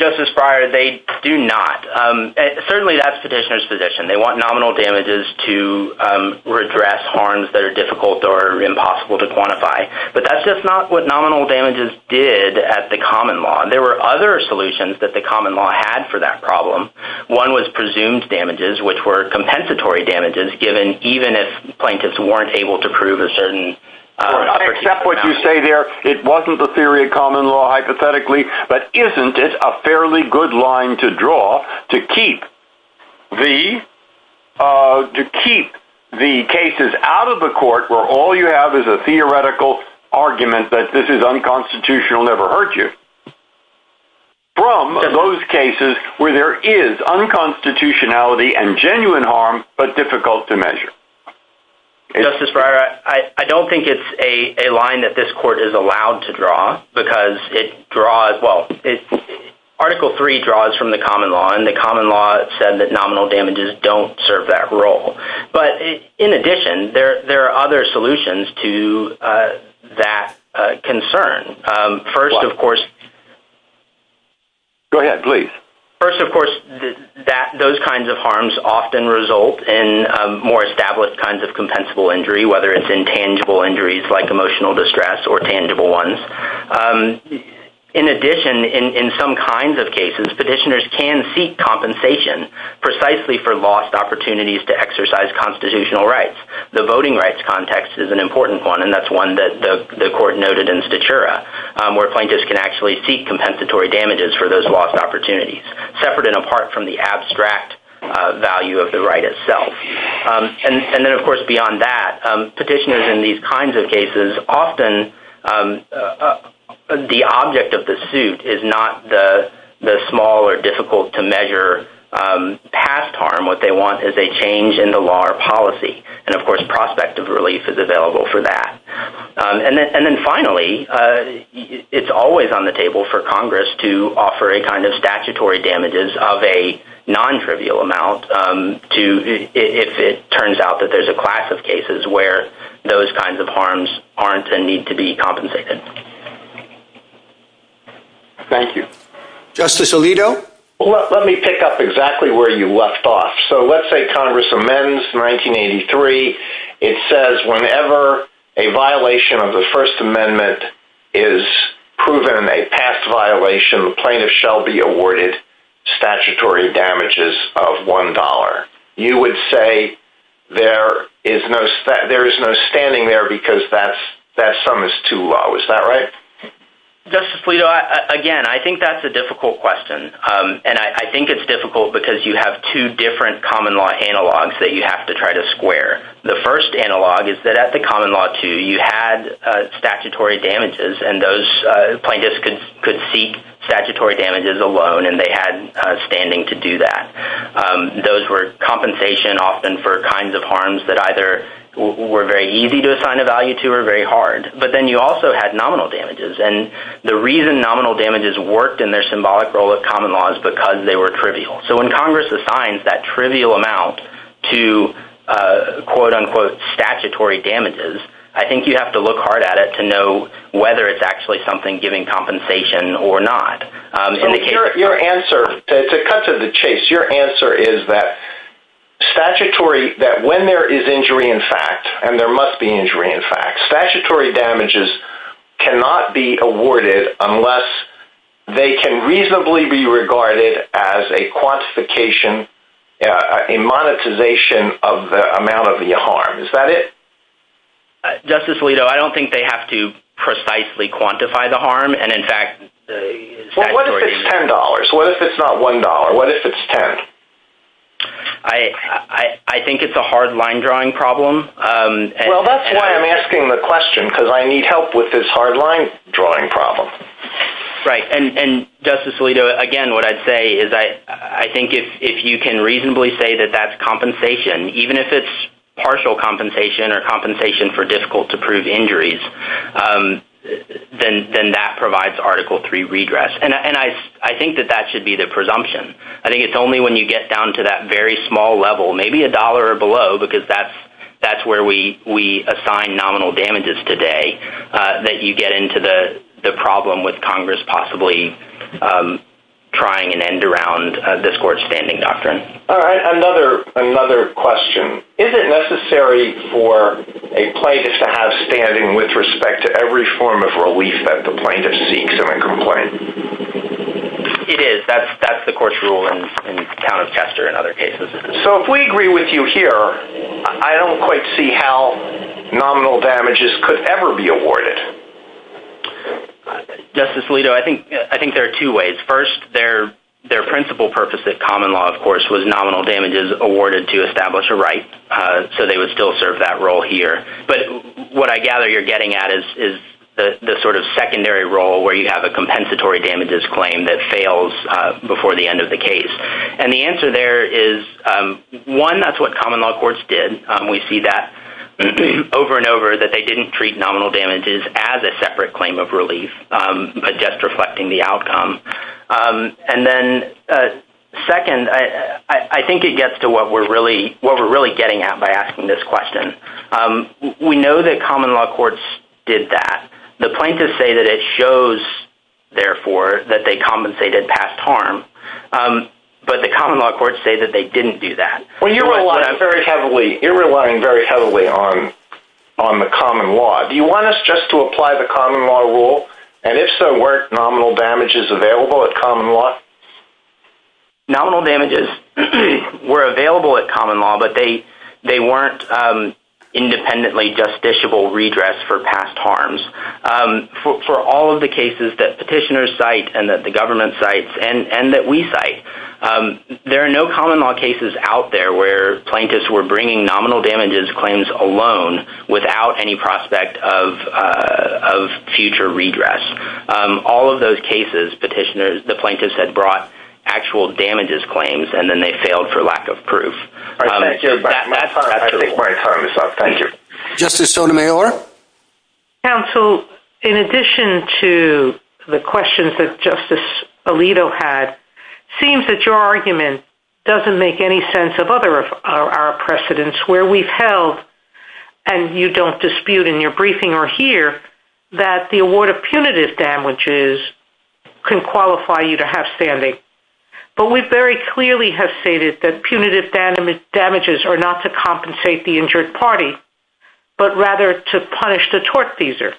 Justice Breyer, they do not. Certainly that's petitioner's position. They want nominal damages to address harms that are difficult or impossible to quantify. But that's just not what nominal damages did at the common law. There were other solutions that the common law had for that problem. One was presumed damages, which were compensatory damages given even if plaintiffs weren't able to prove it. I accept what you say there. It wasn't the theory of common law, hypothetically. But isn't it a fairly good line to draw to keep the cases out of the court where all you have is a theoretical argument that this is unconstitutional, never hurt you from those cases where there is unconstitutionality and genuine harm but difficult to measure? Justice Breyer, I don't think it's a line that this court is allowed to draw because it draws Article III draws from the common law and the common law said that nominal damages don't serve that role. But in addition, there are other solutions to that concern. First, of course, those kinds of harms often result in more established kinds of compensable injury whether it's intangible injuries like emotional distress or tangible ones. In addition, in some kinds of cases, petitioners can seek compensation precisely for lost opportunities to exercise constitutional rights. The voting rights context is an important one and that's one that the court noted in Statura where plaintiffs can actually seek compensatory damages for those lost opportunities, separate and apart from the abstract value of the right itself. And then, of course, beyond that, petitioners in these kinds of cases often the object of the suit is not the small or difficult to measure past harm. What they want is a change in the law or policy and, of course, prospect of relief is available for that. And then finally, it's always on the table for Congress to offer a kind of statutory damages of a if it turns out that there's a class of cases where those kinds of harms aren't a need to be compensated. Thank you. Justice Alito? Let me pick up exactly where you left off. So let's say Congress amends 1983. It says whenever a violation of the First Amendment is proven a past violation, plaintiffs shall be awarded statutory damages of $1. You would say there is no standing there because that sum is too low. Is that right? Justice Alito, again, I think that's a difficult question. And I think it's difficult because you have two different common law analogs that you have to try to square. The first analog is that at the common law 2, you had statutory damages and those plaintiffs could seek statutory damages alone and they had standing to do that. Those were compensation often for kinds of harms that either were very easy to assign a value to or very hard. But then you also had nominal damages and the reason nominal damages worked in their symbolic role at common law is because they were trivial. So when Congress assigns that trivial amount to quote unquote statutory damages, I think you have to look hard at it to know whether it's actually something giving compensation or not. So your answer, to cut to the chase, your answer is that when there is injury in fact, and there must be injury in fact, statutory damages cannot be awarded unless they can reasonably be regarded as a quantification a monetization of the amount of the harm. Is that it? Justice Alito, I don't think they have to precisely quantify the harm and in fact What if it's $10? What if it's not $1? What if it's $10? I think it's a hard line drawing problem Well that's why I'm asking the question because I need help with this hard line drawing problem. And Justice Alito, again what I'd say is I think if you can reasonably say that that's compensation, even if it's partial compensation or compensation for difficult to prove injuries then that provides Article 3 redress and I think that that should be the presumption I think it's only when you get down to that very small level maybe $1 or below because that's where we assign nominal damages today that you get into the problem with Congress possibly trying an end around Another question Is it necessary for a plaintiff to have standing with respect to every form of relief that the plaintiff seeks in a complaint? It is. That's the court's rule So if we agree with you here I don't quite see how nominal damages could ever be awarded Justice Alito, I think there are two ways First, their principal purpose at common law was nominal damages awarded to establish a right so they would still serve that role here but what I gather you're getting at is the secondary role where you have a compensatory damages claim that fails before the end of the case and the answer there is one, that's what common law courts did we see that over and over that they didn't treat nominal damages as a separate claim of relief but just reflecting the outcome Second, I think it gets to what we're really getting at by asking this question We know that common law courts did that The plaintiffs say that it shows therefore that they compensated past harm but the common law courts say that they didn't do that You're relying very heavily on the common law Do you want us just to apply the common law rule and if so, weren't nominal damages available at common law? Nominal damages were available at common law but they weren't independently justiciable redress for past harms For all of the cases that petitioners cite and that the government cites and that we cite there are no common law cases out there where plaintiffs were bringing nominal damages claims alone without any prospect of future redress All of those cases the plaintiffs had brought actual damages claims and then they failed for lack of proof Justice Sotomayor Counsel, in addition to the questions that Justice Alito had seems that your argument doesn't make any sense of our precedence where we've held and you don't dispute in your briefing or here that the award of punitive damages can qualify you to have standing but we very clearly have stated that punitive damages are not to compensate the injured party but rather to punish the tortfeasor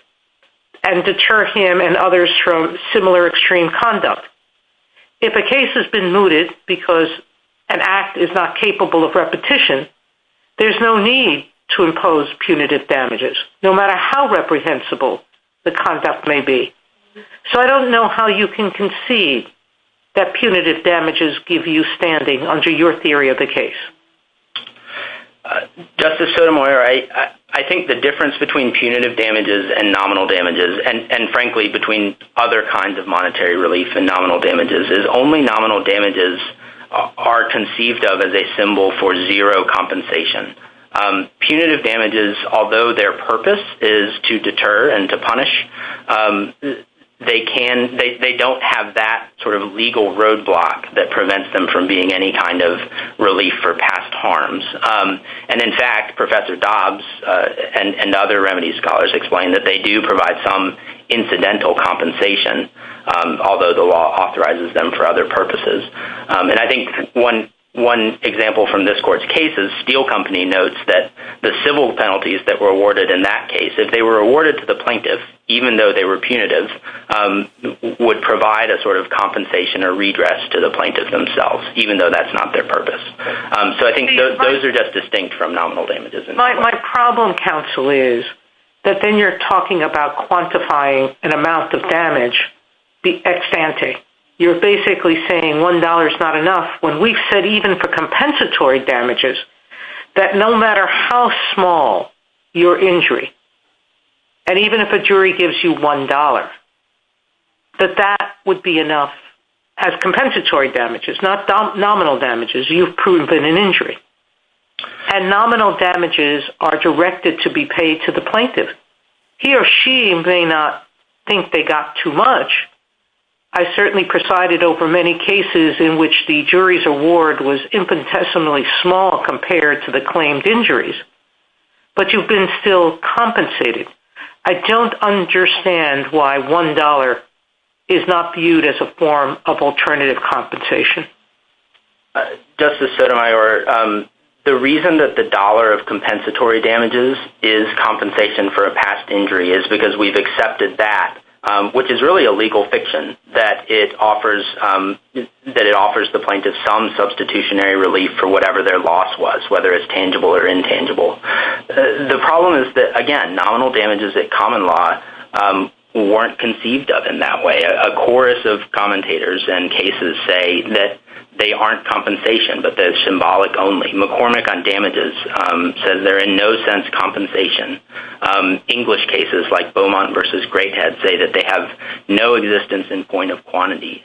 and deter him and others from similar extreme conduct If a case has been mooted because an act is not capable of repetition there's no need to impose punitive damages no matter how reprehensible the conduct may be So I don't know how you can concede that punitive damages give you standing under your theory of the case Justice Sotomayor I think the difference between punitive damages and nominal damages and frankly between other kinds of monetary relief and nominal damages is only nominal damages are conceived of as a symbol for zero compensation Punitive damages, although their purpose is to deter and to punish they don't have that sort of legal roadblock that prevents them from being any kind of relief for past harms and in fact, Professor Dobbs and other remedy scholars explain that they do provide some incidental compensation although the law authorizes them for other purposes and I think one example from this court's case is Steel Company notes that the civil penalties that were awarded in that case if they were awarded to the plaintiff even though they were punitive would provide a sort of compensation or redress to the plaintiff themselves, even though that's not their purpose So I think those are just distinct from nominal damages My problem counsel is that then you're talking about quantifying an amount of damage the ex-ante. You're basically saying $1 is not enough when we've said even for compensatory damages that no matter how small your injury, and even if a jury gives you $1 that that would be enough as compensatory damages not nominal damages. You've proven an injury and nominal damages are directed to be paid to the plaintiff He or she may not think they got too much I certainly presided over many cases in which the jury's award was infinitesimally small compared to the claimed injuries but you've been still compensated I don't understand why $1 is not viewed as a form of alternative compensation Justice Sotomayor the reason that the dollar of compensatory damages is compensation for a past injury is because we've accepted that which is really a legal fiction that it offers the plaintiff some substitutionary relief for whatever their loss was whether it's tangible or intangible The problem is that again, nominal damages at common law weren't conceived of in that way A chorus of commentators in cases say that they aren't compensation but that it's symbolic only McCormick on damages says there is no sense of compensation English cases like Beaumont vs. Greathead I would say that they have no existence in point of quantity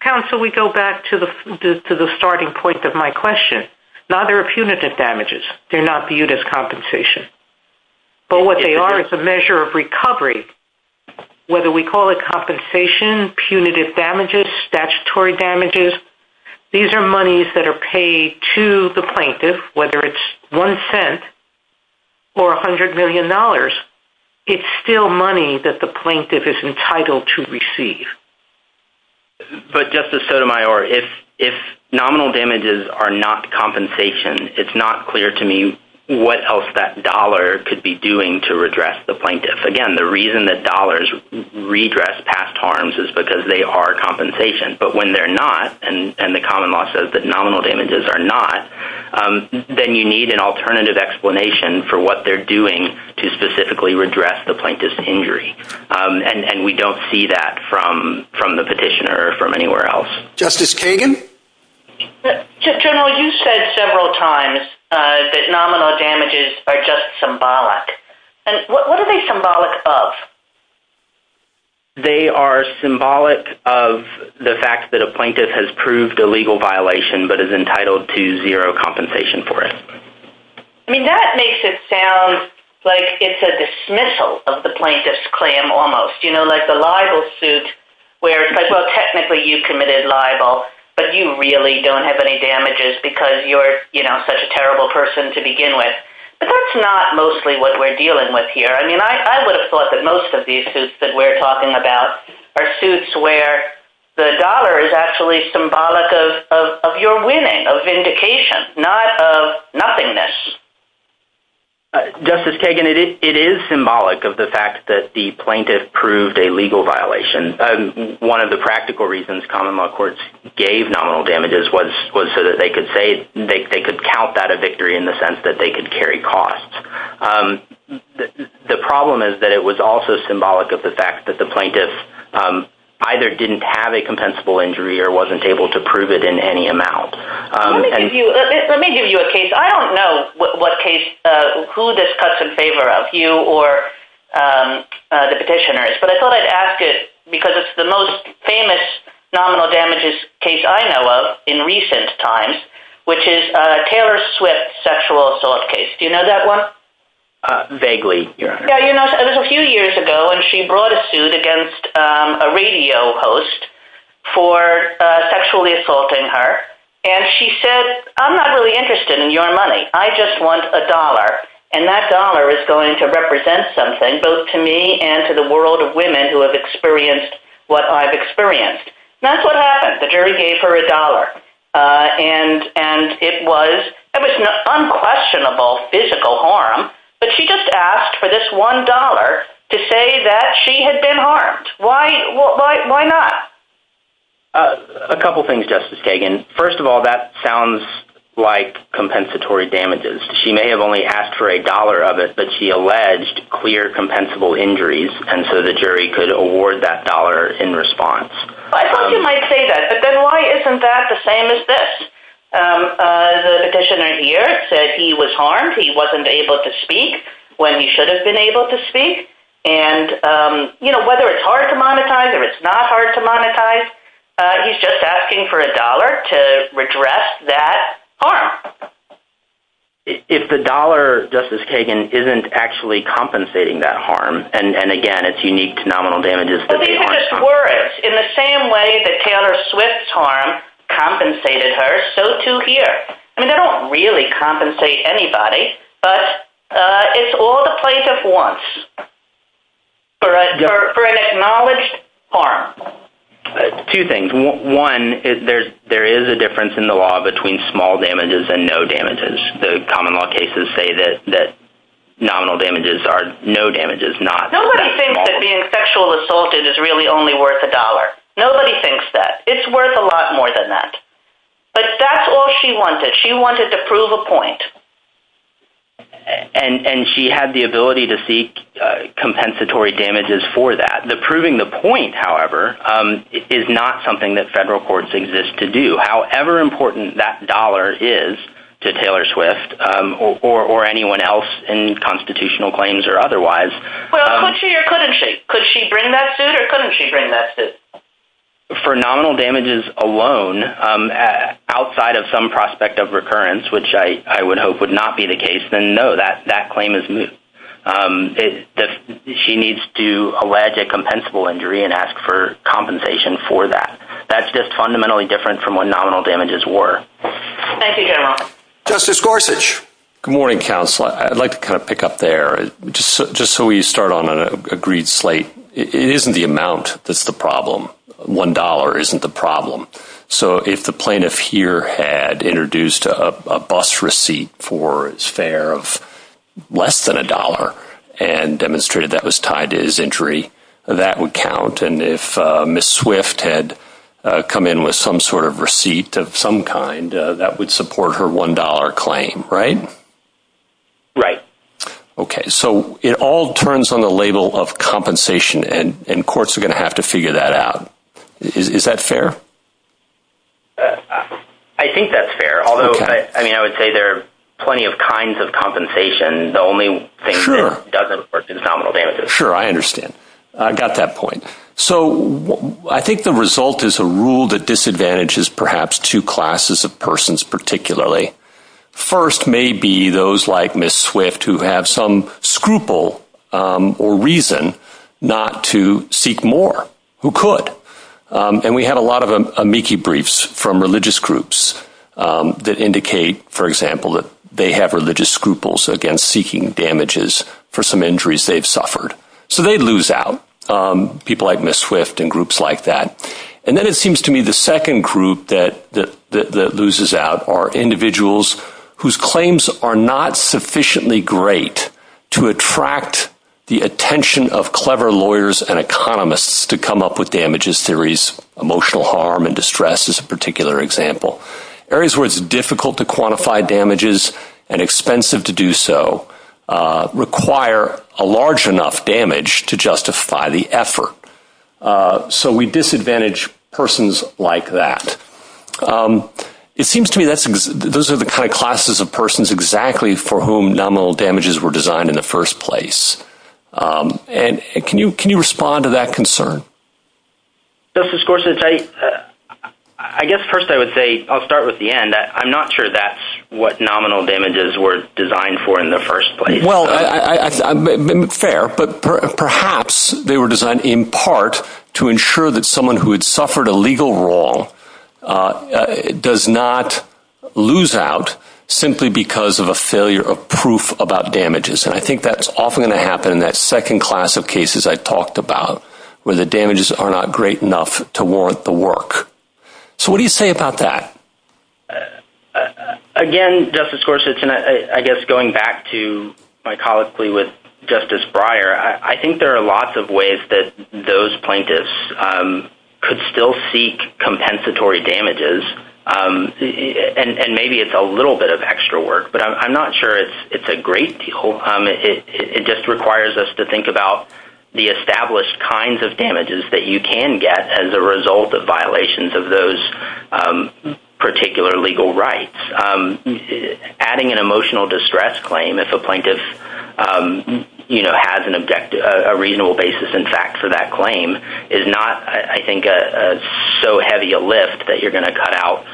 Counsel, we go back to the starting point of my question now there are punitive damages they're not viewed as compensation but what they are is a measure of recovery whether we call it compensation, punitive damages statutory damages these are monies that are paid to the plaintiff whether it's 1 cent or $100 million it's still money that the plaintiff is entitled to receive But Justice Sotomayor if nominal damages are not compensation it's not clear to me what else that dollar could be doing to redress the plaintiff Again, the reason that dollars redress past harms is because they are compensation but when they're not then you need an alternative explanation for what they're doing to specifically redress the plaintiff's injury and we don't see that from the petitioner Justice Kagan General, you said several times that nominal damages are just symbolic What are they symbolic of? They are symbolic of the fact that a plaintiff has proved a legal violation but is entitled to zero compensation for it That makes it sound like it's a dismissal of the plaintiff's claim like the libel suit where technically you committed libel but you really don't have any damages because you're such a terrible person but that's not mostly what we're dealing with I would have thought that most of these suits are suits where the dollar is symbolic of your winning of vindication, not of nothingness Justice Kagan, it is symbolic of the fact that the plaintiff proved a legal violation One of the practical reasons common law courts gave nominal damages was so that they could count that a victory in the sense that they could carry costs The problem is that it was also symbolic of the fact that the plaintiff either didn't have a compensable injury or wasn't able to prove it in any amount Let me give you a case I don't know who this cuts in favor of you or the petitioners but I thought I'd ask it because it's the most famous nominal damages case I know of in recent times which is Taylor Swift's sexual assault case Do you know that one? It was a few years ago when she brought a suit against a radio host for sexually assaulting her and she said, I'm not really interested in your money I just want a dollar and that dollar is going to represent something both to me and to the world of women who have experienced what I've experienced That's what happened. The jury gave her a dollar It was an unquestionable physical harm but she just asked for this one dollar to say that she had been harmed Why not? A couple things, Justice Kagan First of all, that sounds like compensatory damages She may have only asked for a dollar but she alleged clear compensable injuries and so the jury could award that dollar in response I thought you might say that but then why isn't that the same as this? The petitioner here said he was harmed he wasn't able to speak when he should have been able to speak and whether it's hard to monetize or it's not hard to monetize he's just asking for a dollar to redress that harm If the dollar, Justice Kagan isn't actually compensating that harm and again it's unique to nominal damages These are just words In the same way that Tanner Swift's harm compensated her so too here They don't really compensate anybody but it's all the plaintiff wants for an acknowledged harm Two things One, there is a difference in the law between small damages and no damages The common law cases say that nominal damages are no damages Nobody thinks that being sexually assaulted is really only worth a dollar Nobody thinks that It's worth a lot more than that But that's all she wanted She wanted to prove a point And she had the ability to seek compensatory damages for that Proving the point however is not something that federal courts exist to do However important that dollar is to Taylor Swift or anyone else in constitutional claims or otherwise Could she bring that suit or couldn't she bring that suit? For nominal damages alone outside of some prospect of recurrence which I would hope would not be the case then no, that claim is moot She needs to allege a compensable injury and ask for compensation for that That's just fundamentally different from what nominal damages were Thank you General Good morning Counselor Just so we start on an agreed slate It isn't the amount that's the problem One dollar isn't the problem So if the plaintiff here had introduced a bus receipt for his fare of less than a dollar and demonstrated that was tied to his injury that would count and if Ms. Swift had come in with some sort of receipt of some kind that would support her one dollar claim Right? So it all turns on the label of compensation and courts are going to have to figure that out Is that fair? I would say there are plenty of kinds of compensation Sure I got that point So I think the result is a rule that disadvantages perhaps two classes of persons particularly First may be those like Ms. Swift who have some scruple or reason not to seek more Who could? And we have a lot of amici briefs from religious groups that indicate for example that they have religious scruples against seeking damages for some injuries they've suffered So they lose out People like Ms. Swift and groups like that And then it seems to me the second group that loses out are individuals whose claims are not sufficiently great to attract the attention of clever lawyers and economists to come up with damages And then we have damages theories Emotional harm and distress is a particular example Areas where it's difficult to quantify damages and expensive to do so require a large enough damage to justify the effort So we disadvantage persons like that It seems to me those are the kind of classes of persons exactly for whom nominal damages were designed in the first place And can you respond to that concern? Justice Gorsuch I guess first I would say, I'll start with the end I'm not sure that's what nominal damages were designed for in the first place Fair, but perhaps they were designed in part to ensure that someone who had suffered a legal wrong does not lose out simply because of a failure of proof about damages And I think that's often going to happen in that second class of cases I talked about where the damages are not great enough to warrant the work So what do you say about that? Again, Justice Gorsuch I guess going back to my colleague Justice Breyer I think there are lots of ways that those plaintiffs could still seek compensatory damages And maybe it's a little bit of extra work But I'm not sure it's a great deal It just requires us to think about the established kinds of damages that you can get as a result of violations of those particular legal rights Adding an emotional distress claim if a plaintiff has a reasonable basis in fact for that claim is not, I think, so heavy a lift that you're going to cut out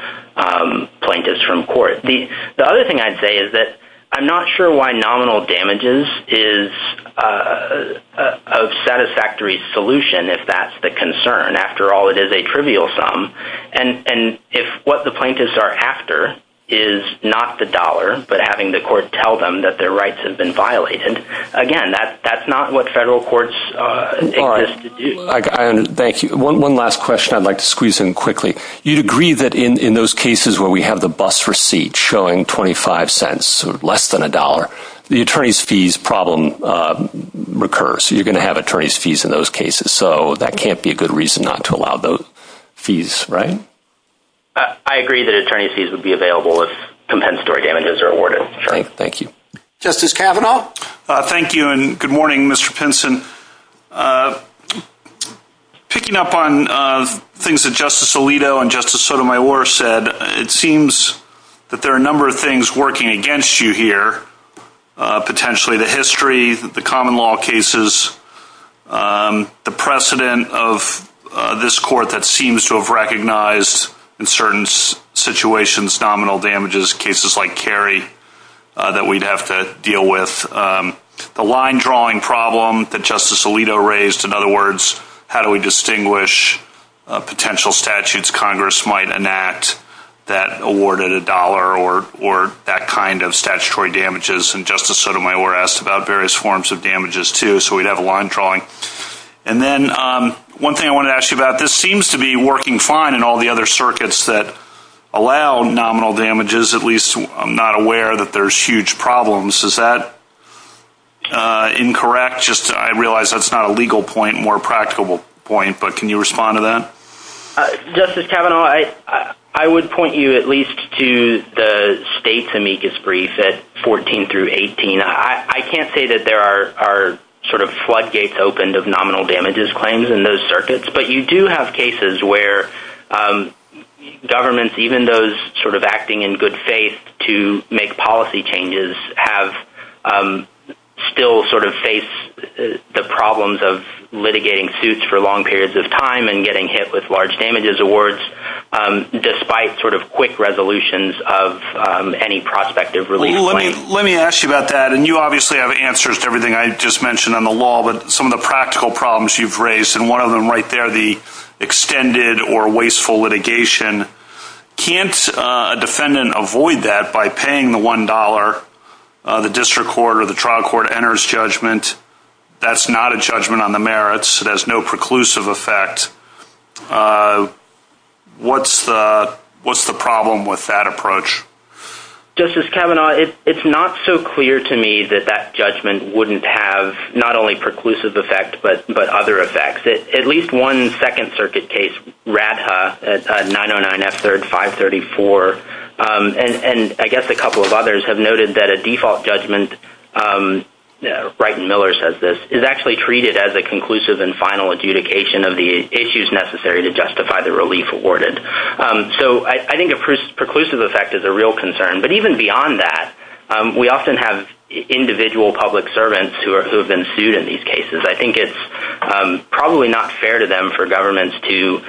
plaintiffs from court The other thing I'd say is that I'm not sure why nominal damages is a satisfactory solution if that's the concern After all, it is a trivial sum And if what the plaintiffs are after is not the dollar but having the court tell them that their rights have been violated Again, that's not what federal courts Alright, thank you One last question I'd like to squeeze in quickly You'd agree that in those cases where we have the bus receipt showing 25 cents, so less than a dollar the attorney's fees problem recurs So you're going to have attorney's fees in those cases So that can't be a good reason not to allow those fees, right? I agree that attorney's fees would be available if compensatory damages are awarded Justice Kavanaugh? Thank you and good morning Mr. Pinson Picking up on things that Justice Alito and Justice Sotomayor said It seems that there are a number of things working against you here Potentially the history, the common law cases The precedent of this court that seems to have recognized in certain situations, nominal damages cases like Cary that we'd have to deal with The line drawing problem that Justice Alito raised In other words, how do we distinguish potential statutes Congress might enact that awarded a dollar or that kind of statutory damages And Justice Sotomayor asked about various forms of damages too So we'd have a line drawing And then one thing I wanted to ask you about This seems to be working fine in all the other circuits that allow nominal damages At least I'm not aware that there's huge problems Is that incorrect? I realize that's not a legal point but can you respond to that? Justice Kavanaugh, I would point you at least to the state's amicus brief at 14-18 I can't say that there are floodgates opened of nominal damages claims in those circuits but you do have cases where governments, even those acting in good faith to make policy changes still face the problems of litigating suits for long periods of time and getting hit with large damages awards despite quick resolutions of Let me ask you about that and you obviously have answers to everything I just mentioned on the law, but some of the practical problems you've raised and one of them right there, the extended or wasteful litigation Can't a defendant avoid that by paying the one dollar the district court or the trial court enters judgment that's not a judgment on the merits it has no preclusive effect what's the problem with that approach? Justice Kavanaugh, it's not so clear to me that that judgment wouldn't have not only preclusive effect but other effects at least one second circuit case, Ratha 909F3534 and I guess a couple of others have noted that a default judgment Brighton Miller says this is actually treated as a conclusive and final adjudication of the issues necessary to justify the relief awarded so I think a preclusive effect is a real concern but even beyond that we often have individual public servants who have been sued in these cases I think it's probably not fair to them for governments to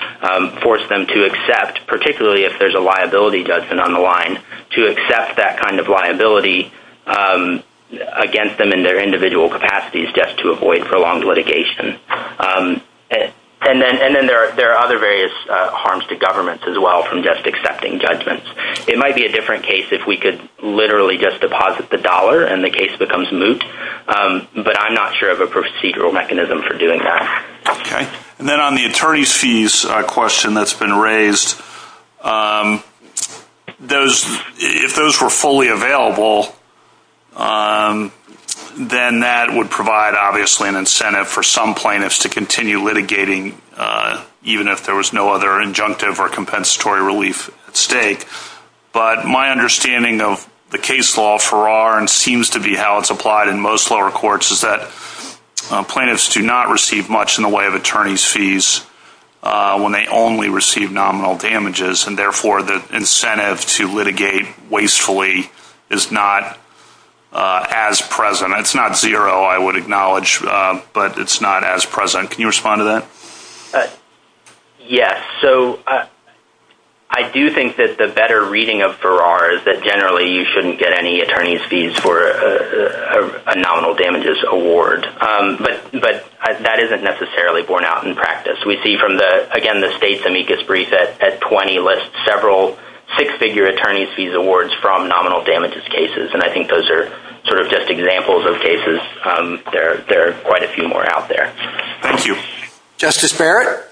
force them to accept particularly if there's a liability judgment on the line to accept that kind of liability against them in their individual capacities just to avoid prolonged litigation and then there are other various harms to governments as well from just accepting judgments it might be a different case if we could literally just deposit the dollar and the case becomes moot but I'm not sure of a procedural mechanism for doing that Then on the attorney's fees question that's been raised if those were fully available then that would provide obviously an incentive for some plaintiffs to continue litigating even if there was no other injunctive or compensatory relief at stake but my understanding of the case law for R and seems to be how it's applied in most lower courts is that plaintiffs do not receive much in the way of attorney's fees when they only receive nominal damages and therefore the incentive to litigate wastefully is not as present it's not zero I would acknowledge but it's not as present. Can you respond to that? Yes I do think that the better reading of R is that generally you shouldn't get any attorney's fees for a nominal damages award but that isn't necessarily borne out in practice we see from the state's amicus brief at 20 lists several six figure attorney's fees awards from nominal damages cases and I think those are just examples of cases there are quite a few more out there Justice Barrett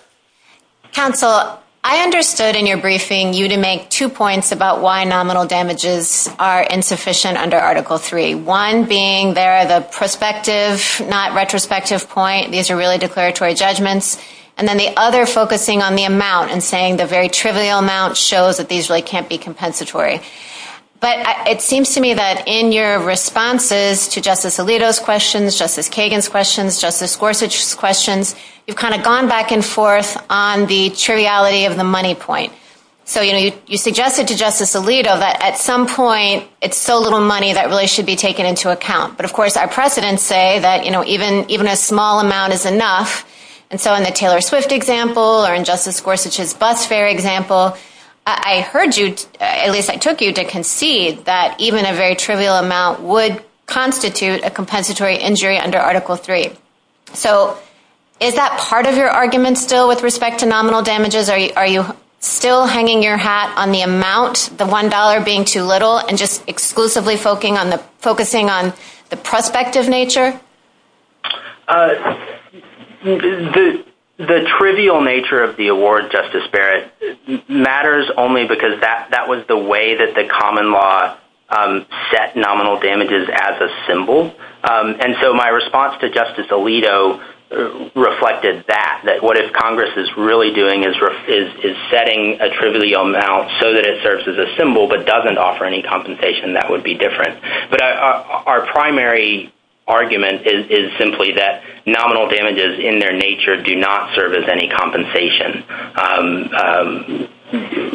Counsel, I understood in your briefing you to make two points about why nominal damages are insufficient under article 3 one being the perspective not retrospective point these are really declaratory judgments and then the other focusing on the amount and saying the very trivial amount shows that these really can't be compensatory but it seems to me that in your responses to Justice Alito's questions, Justice Kagan's questions Justice Gorsuch's questions you've kind of gone back and forth on the triviality of the money points so you suggested to Justice Alito that at some point it's so little money that really should be taken into account but of course our precedents say that even a small amount is enough and so in the Taylor Swift example or in Justice Gorsuch's bus fare example I heard you, at least I took you to concede that even a very trivial amount would constitute a compensatory injury under article 3 so is that part of your argument still with respect to nominal damages are you still hanging your hat on the amount the one dollar being too little and just exclusively focusing on the prospective nature the trivial nature of the award Justice Barrett matters only because that was the way that the common law set nominal damages as a symbol and so my response to Justice Alito reflected that, that what Congress is really doing is setting a trivial amount so that it serves as a symbol but doesn't offer any compensation that would be different our primary argument is simply that nominal damages in their nature do not serve as any compensation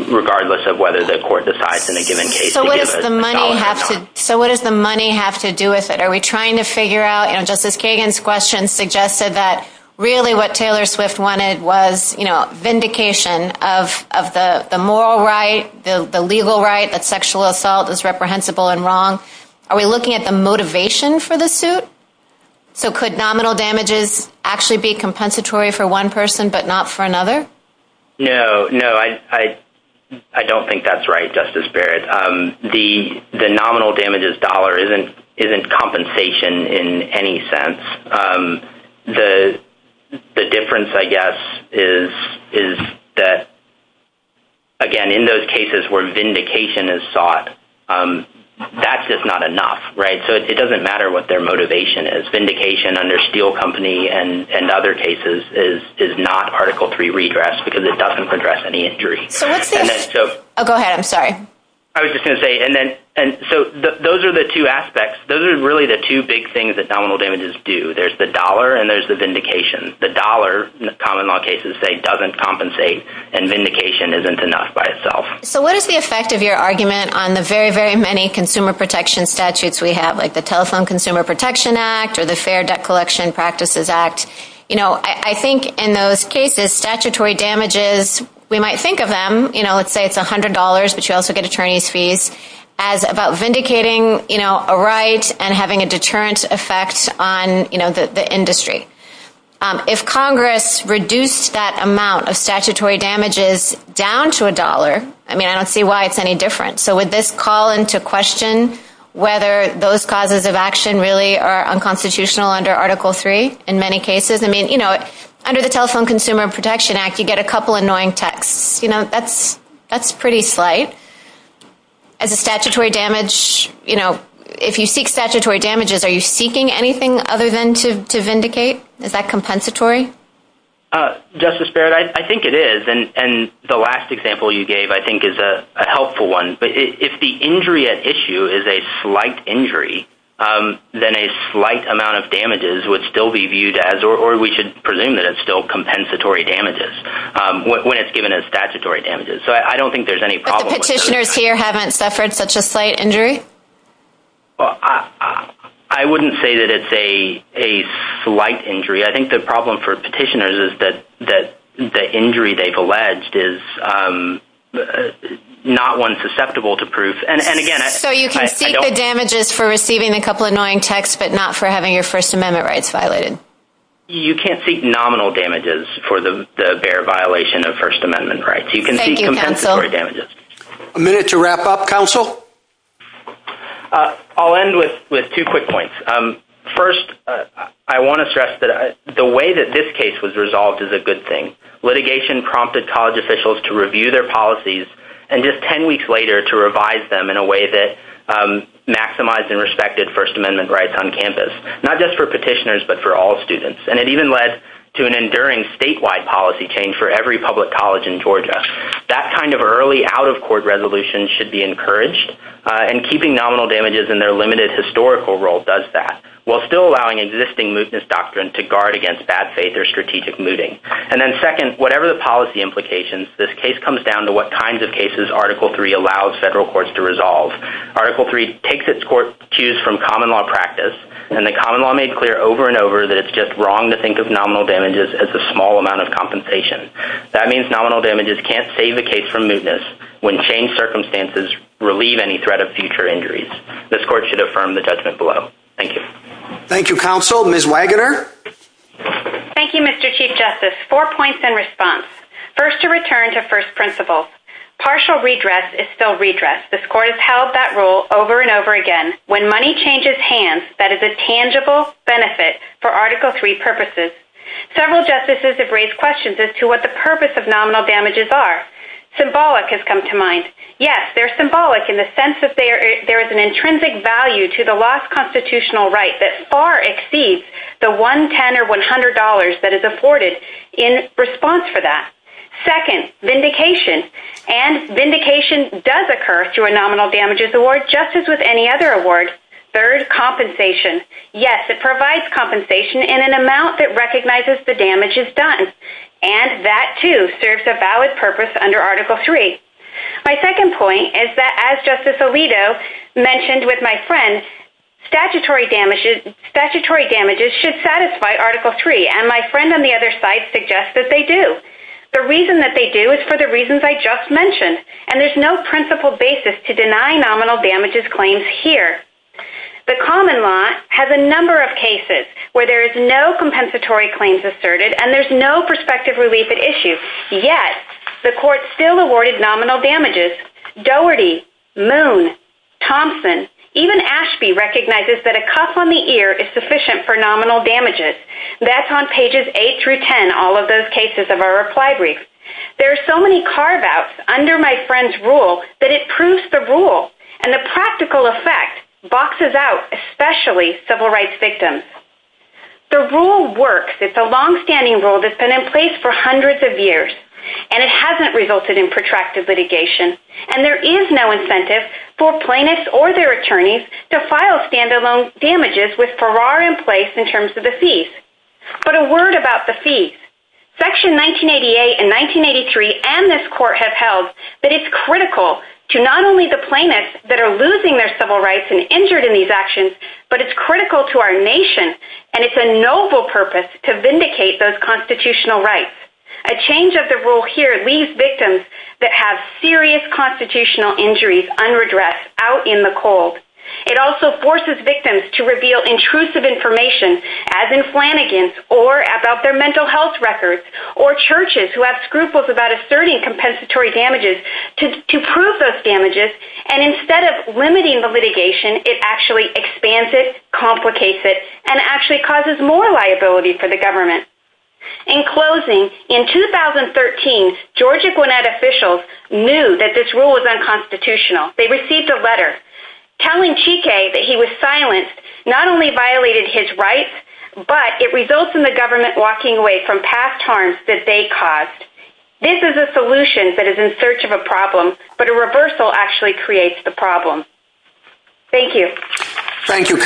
regardless of whether the court decides in a given case so what does the money have to do with it are we trying to figure out Justice Kagan's question suggested that really what Taylor Swift wanted was vindication of the moral right, the legal right that sexual assault is reprehensible and wrong are we looking at the motivation for the suit so could nominal damages actually be compensatory for one person but not for another no I don't think that's right Justice Barrett the nominal damages dollar isn't compensation in any sense the difference I guess is that again in those cases where vindication is sought that's just not enough so it doesn't matter what their motivation is vindication under Steele Company and other cases is not article 3 redress because it doesn't address any injury so those are the two aspects those are really the two big things that nominal damages do there's the dollar and there's the vindication the dollar in common law cases doesn't compensate and vindication isn't enough by itself so what is the effect of your argument on the very many consumer protection statutes we have like the Telephone Consumer Protection Act or the Fair Debt Collection Practices Act I think in those cases statutory damages we might think of them, let's say it's $100 but you also get attorney's fees as about vindicating a right and having a deterrent effect on the industry if Congress reduced that amount of statutory damages down to a dollar I don't see why it's any different so would this call into question whether those causes of action really are unconstitutional under article 3 under the Telephone Consumer Protection Act you get a couple annoying texts that's pretty slight if you seek statutory damages are you seeking anything other than to vindicate is that compensatory Justice Barrett I think it is the last example you gave I think is a helpful one if the injury at issue is a slight injury then a slight amount of damages would still be viewed as, or we should presume that it's still compensatory damages when it's given as statutory damages so I don't think there's any problem I wouldn't say that it's a slight injury I think the problem for petitioners is that the injury they've alleged is not one susceptible to proof so you can seek the damages for receiving a couple annoying texts but not for having your First Amendment rights violated you can't seek nominal damages for the bare violation of First Amendment rights you can seek compensatory damages I'll end with two quick points first I want to stress that the way that this case was resolved is a good thing litigation prompted college officials to review their policies and just ten weeks later to revise them in a way that maximized and respected First Amendment rights on campus not just for petitioners but for all students and it even led to an enduring statewide policy change for every public college in Georgia that kind of early out of court resolution should be encouraged and keeping nominal damages in their limited historical role does that while still allowing existing mootness doctrine to guard against bad faith or strategic mooting and then second, whatever the policy implications this case comes down to what kinds of cases Article 3 allows federal courts to resolve Article 3 takes its court cues from common law practice and the common law made clear over and over that it's just wrong to think of nominal damages as a small amount of compensation that means nominal damages can't save a case from mootness when changed circumstances relieve any threat of future injuries this court should affirm the judgment below thank you thank you Mr. Chief Justice four points in response first to return to first principles partial redress is still redress this court has held that rule over and over again when money changes hands that is a tangible benefit for Article 3 purposes several justices have raised questions as to what the purpose of nominal damages are symbolic has come to mind yes, they're symbolic in the sense that there is an intrinsic value to the lost constitutional right that far exceeds the $110 or $100 that is afforded in response for that second, vindication and vindication does occur through a nominal damages award just as with any other award third, compensation yes, it provides compensation in an amount that recognizes the damages done and that too serves a valid purpose under Article 3 my second point is that as Justice Alito mentioned with my friend statutory damages should satisfy Article 3 and my friend on the other side suggests that they do the reason that they do is for the reasons I just mentioned and there is no principle basis to deny nominal damages claims here the common law has a number of cases where there is no compensatory claims asserted and there is no prospective relief at issue yet, the court still awarded nominal damages Doherty, Moon, Thompson even Ashby recognizes that a cuff on the ear is sufficient for nominal damages that's on pages 8-10 all of those cases of our reply brief there are so many carve outs under my friend's rule that it proves the rule and the practical effect boxes out especially civil rights victims the rule works, it's a long-standing rule that's been in place for hundreds of years and it hasn't resulted in protracted litigation and there is no incentive for plaintiffs or their attorneys to file stand-alone damages but a word about the fees Section 1988 and 1983 and this court have held that it's critical to not only the plaintiffs that are losing their civil rights and injured in these actions but it's critical to our nation and it's a noble purpose to vindicate those constitutional rights a change of the rule here leaves victims that have serious constitutional injuries unredressed out in the cold it also forces victims to reveal intrusive information as in Flanagan's or about their mental health records or churches who have scruples about asserting compensatory damages to prove those damages and instead of limiting the litigation it actually expands it, complicates it and actually causes more liability for the government in closing, in 2013, Georgia Gwinnett officials knew that this rule was unconstitutional they received a letter telling Cheekay that he was silenced not only violated his rights but it results in the government walking away from past harms that they caused this is a solution that is in search of a problem but a reversal actually creates the problem Thank you